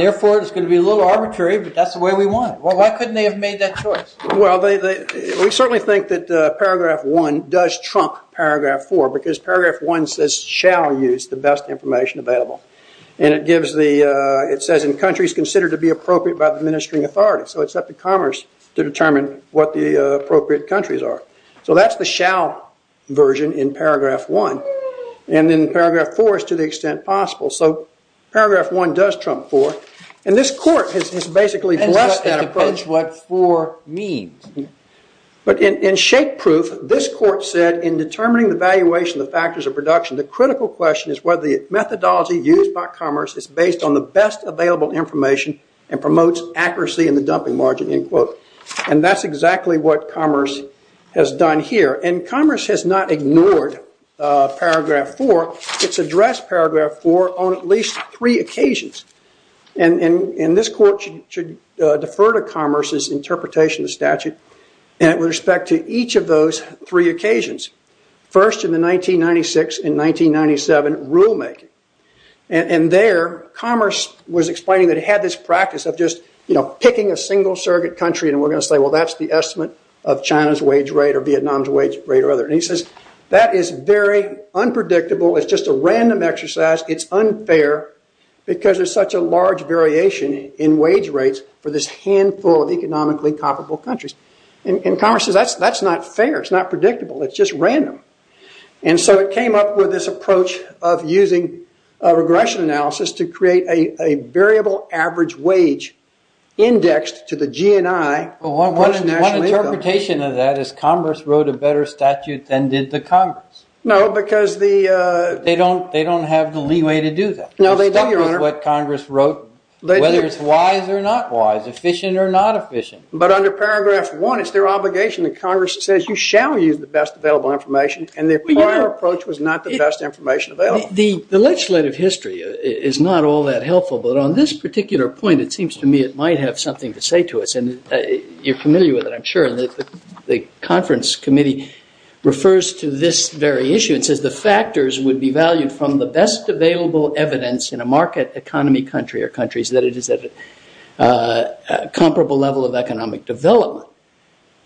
therefore it's going to be a little arbitrary, but that's the way we want it. Why couldn't they have made that choice? Well, we certainly think that Paragraph 1 does trump Paragraph 4 because Paragraph 1 says shall use the best information available, and it says in countries considered to be appropriate by the administering authority, so it's up to Commerce to determine what the appropriate countries are. So that's the shall version in Paragraph 1, and then Paragraph 4 is to the extent possible. So Paragraph 1 does trump 4, and this court has basically blessed us with what 4 means. But in shape proof, this court said, in determining the valuation of factors of production, the critical question is whether the methodology used by Commerce is based on the best available information and promotes accuracy in the dumping margin. And that's exactly what Commerce has done here, and Commerce has not ignored Paragraph 4. It's addressed Paragraph 4 on at least three occasions. And this court should defer to Commerce's interpretation of the statute with respect to each of those three occasions, first in the 1996 and 1997 rulemaking. And there Commerce was explaining that it had this practice of just, you know, picking a single surrogate country, and we're going to say, well, that's the estimate of China's wage rate or Vietnam's wage rate or other. And he says that is very unpredictable. It's just a random exercise. It's unfair because there's such a large variation in wage rates for this handful of economically comparable countries. And Commerce says that's not fair. It's not predictable. It's just random. And so it came up with this approach of using regression analysis to create a variable average wage indexed to the GNI. Well, what's the interpretation of that? Is Commerce wrote a better statute than did the Congress? No, because the – They don't have the leeway to do that. No, they don't, Your Honor. They don't know what Congress wrote, whether it's wise or not wise, efficient or not efficient. But under paragraph one, it's their obligation that Congress says you shall use the best available information, and the prior approach was not the best information available. The legislative history is not all that helpful, but on this particular point it seems to me it might have something to say to us, and you're familiar with it, I'm sure, and the conference committee refers to this very issue and says the factors would be valued from the best available evidence in a market economy country or countries that it is a comparable level of economic development.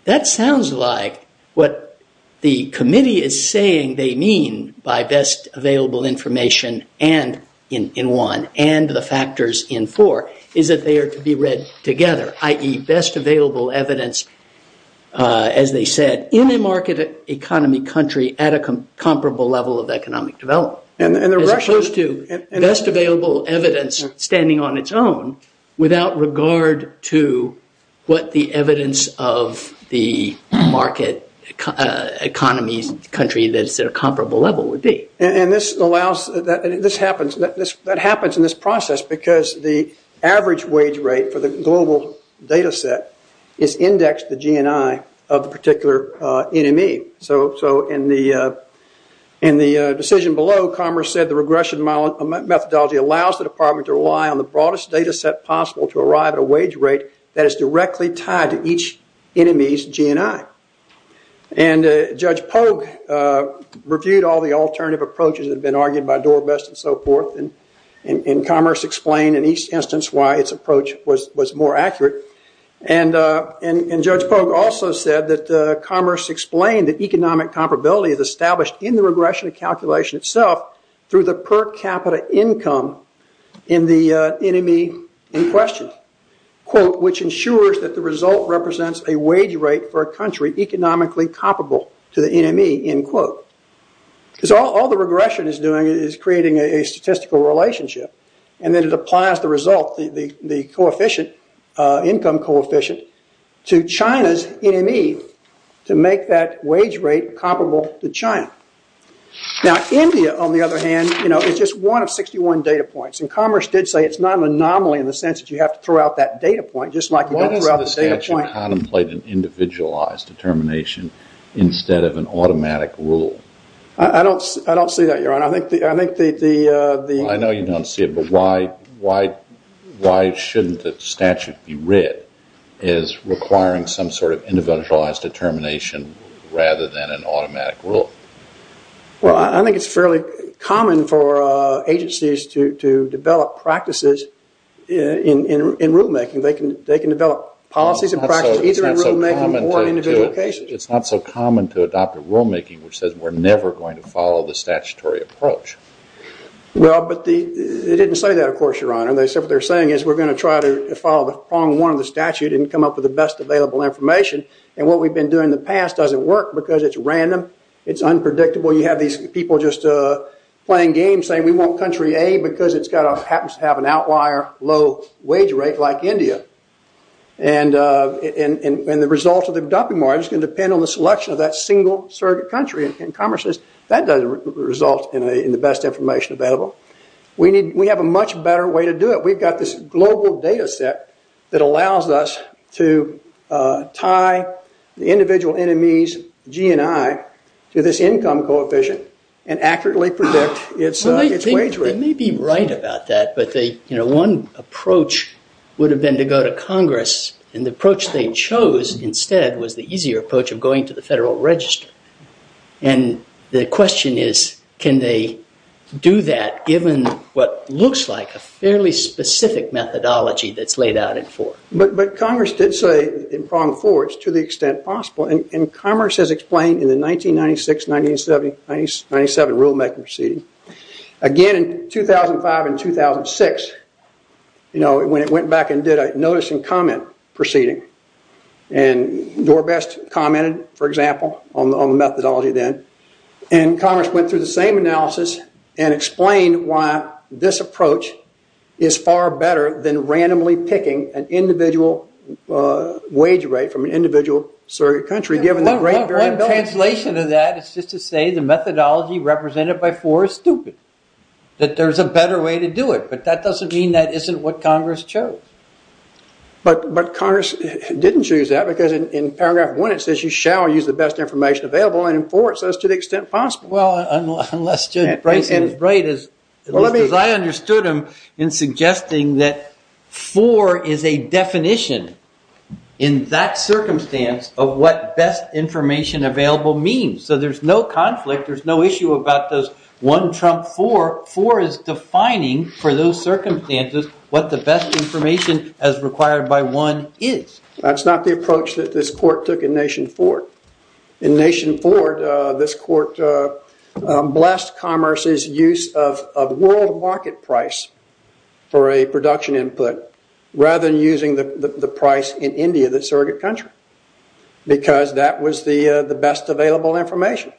That sounds like what the committee is saying they mean by best available information in one and the factors in four is that they are to be read together, i.e., best available evidence, as they said, in a market economy country at a comparable level of economic development. And the – As opposed to best available evidence standing on its own without regard to what the evidence of the market economy country that's at a comparable level would be. And this allows – this happens – that happens in this process because the broadest data set is indexed to GNI of the particular NME. So in the decision below, Commerce said the regression methodology allows the department to rely on the broadest data set possible to arrive at a wage rate that is directly tied to each NME's GNI. And Judge Polk reviewed all the alternative approaches that have been argued by Dorbess and so forth, and Commerce explained in each instance why its approach was more accurate. And Judge Polk also said that Commerce explained that economic comparability is established in the regression calculation itself through the per capita income in the NME in question, quote, which ensures that the result represents a wage rate for a country economically comparable to the NME, end quote. Because all the regression is doing is creating a statistical relationship, and then it applies the result, the coefficient, income coefficient, to China's NME to make that wage rate comparable to China. Now, India, on the other hand, you know, is just one of 61 data points, and Commerce did say it's not an anomaly in the sense that you have to throw out that data point just like you have to throw out this data point. Why doesn't the statute contemplate an individualized determination instead of an automatic rule? I don't see that, Your Honor. I know you don't see it, but why shouldn't the statute be writ as requiring some sort of individualized determination rather than an automatic rule? Well, I think it's fairly common for agencies to develop practices in rulemaking. They can develop policies and practices either in rulemaking or in individualization. It's not so common to adopt a rulemaking which says we're never going to follow the statutory approach. Well, but they didn't say that, of course, Your Honor. They said what they're saying is we're going to try to follow the prong one of the statute and come up with the best available information, and what we've been doing in the past doesn't work because it's random. It's unpredictable. You have these people just playing games saying we want country A because it happens to have an outlier low wage rate like India, and the result of the dumping market is going to depend on the selection of that single surrogate country in Commerce's. That doesn't result in the best information available. We have a much better way to do it. We've got this global data set that allows us to tie the individual NME's G and I to this income coefficient and accurately predict its wage rate. They may be right about that, but one approach would have been to go to Congress, and the approach they chose instead was the easier approach of going to the Federal Register. The question is can they do that given what looks like a fairly specific methodology that's laid out in force? But Congress did say in pronged force to the extent possible, and Commerce has explained in the 1996-1997 rulemaking proceeding, again in 2005 and 2006 when it went back and did a notice and comment proceeding, and Dorbest commented, for example, on the methodology then, and Commerce went through the same analysis and explained why this approach is far better than randomly picking an individual wage rate from an individual surrogate country given that randomly. Translation of that is just to say the methodology represented by force is stupid, that there's a better way to do it, but that doesn't mean that isn't what Congress chose. But Congress didn't choose that because in paragraph one it says you shall use the best information available, and in four it says to the extent possible. Well, unless Jim is right as I understood him in suggesting that four is a definition in that circumstance of what best information available means. So there's no conflict. There's no issue about this one from four. Four is defining for those circumstances what the best information as required by one is. That's not the approach that this court took in Nation 4. In Nation 4, this court blessed Commerce's use of world market price for a production input rather than using the price in India, the surrogate country, because that was the best available information.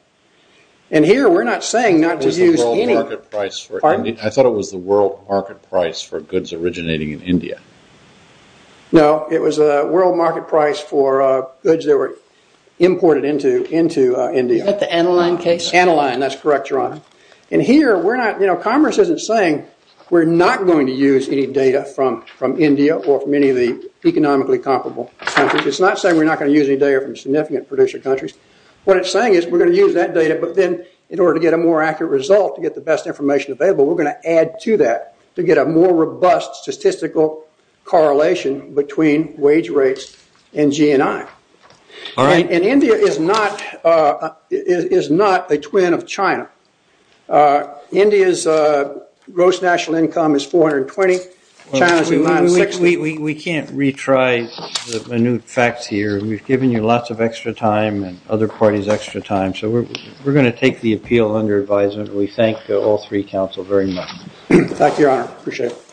And here we're not saying not to use any... I thought it was the world market price for goods originating in India. No, it was the world market price for goods that were imported into India. Is that the Aniline case? Aniline, that's correct, Ron. And here, Commerce isn't saying we're not going to use any data from India or from any of the economically comparable countries. It's not saying we're not going to use any data from significant producer countries. What it's saying is we're going to use that data, but then in order to get a more accurate result to get the best information available, we're going to add to that to get a more robust statistical correlation between wage rates and GNI. And India is not a twin of China. India's gross national income is 420. We can't retry the new facts here. We've given you lots of extra time and other parties extra time, so we're going to take the appeal on your advisement. We thank all three counsel very much. Back to you, Ron. Appreciate it.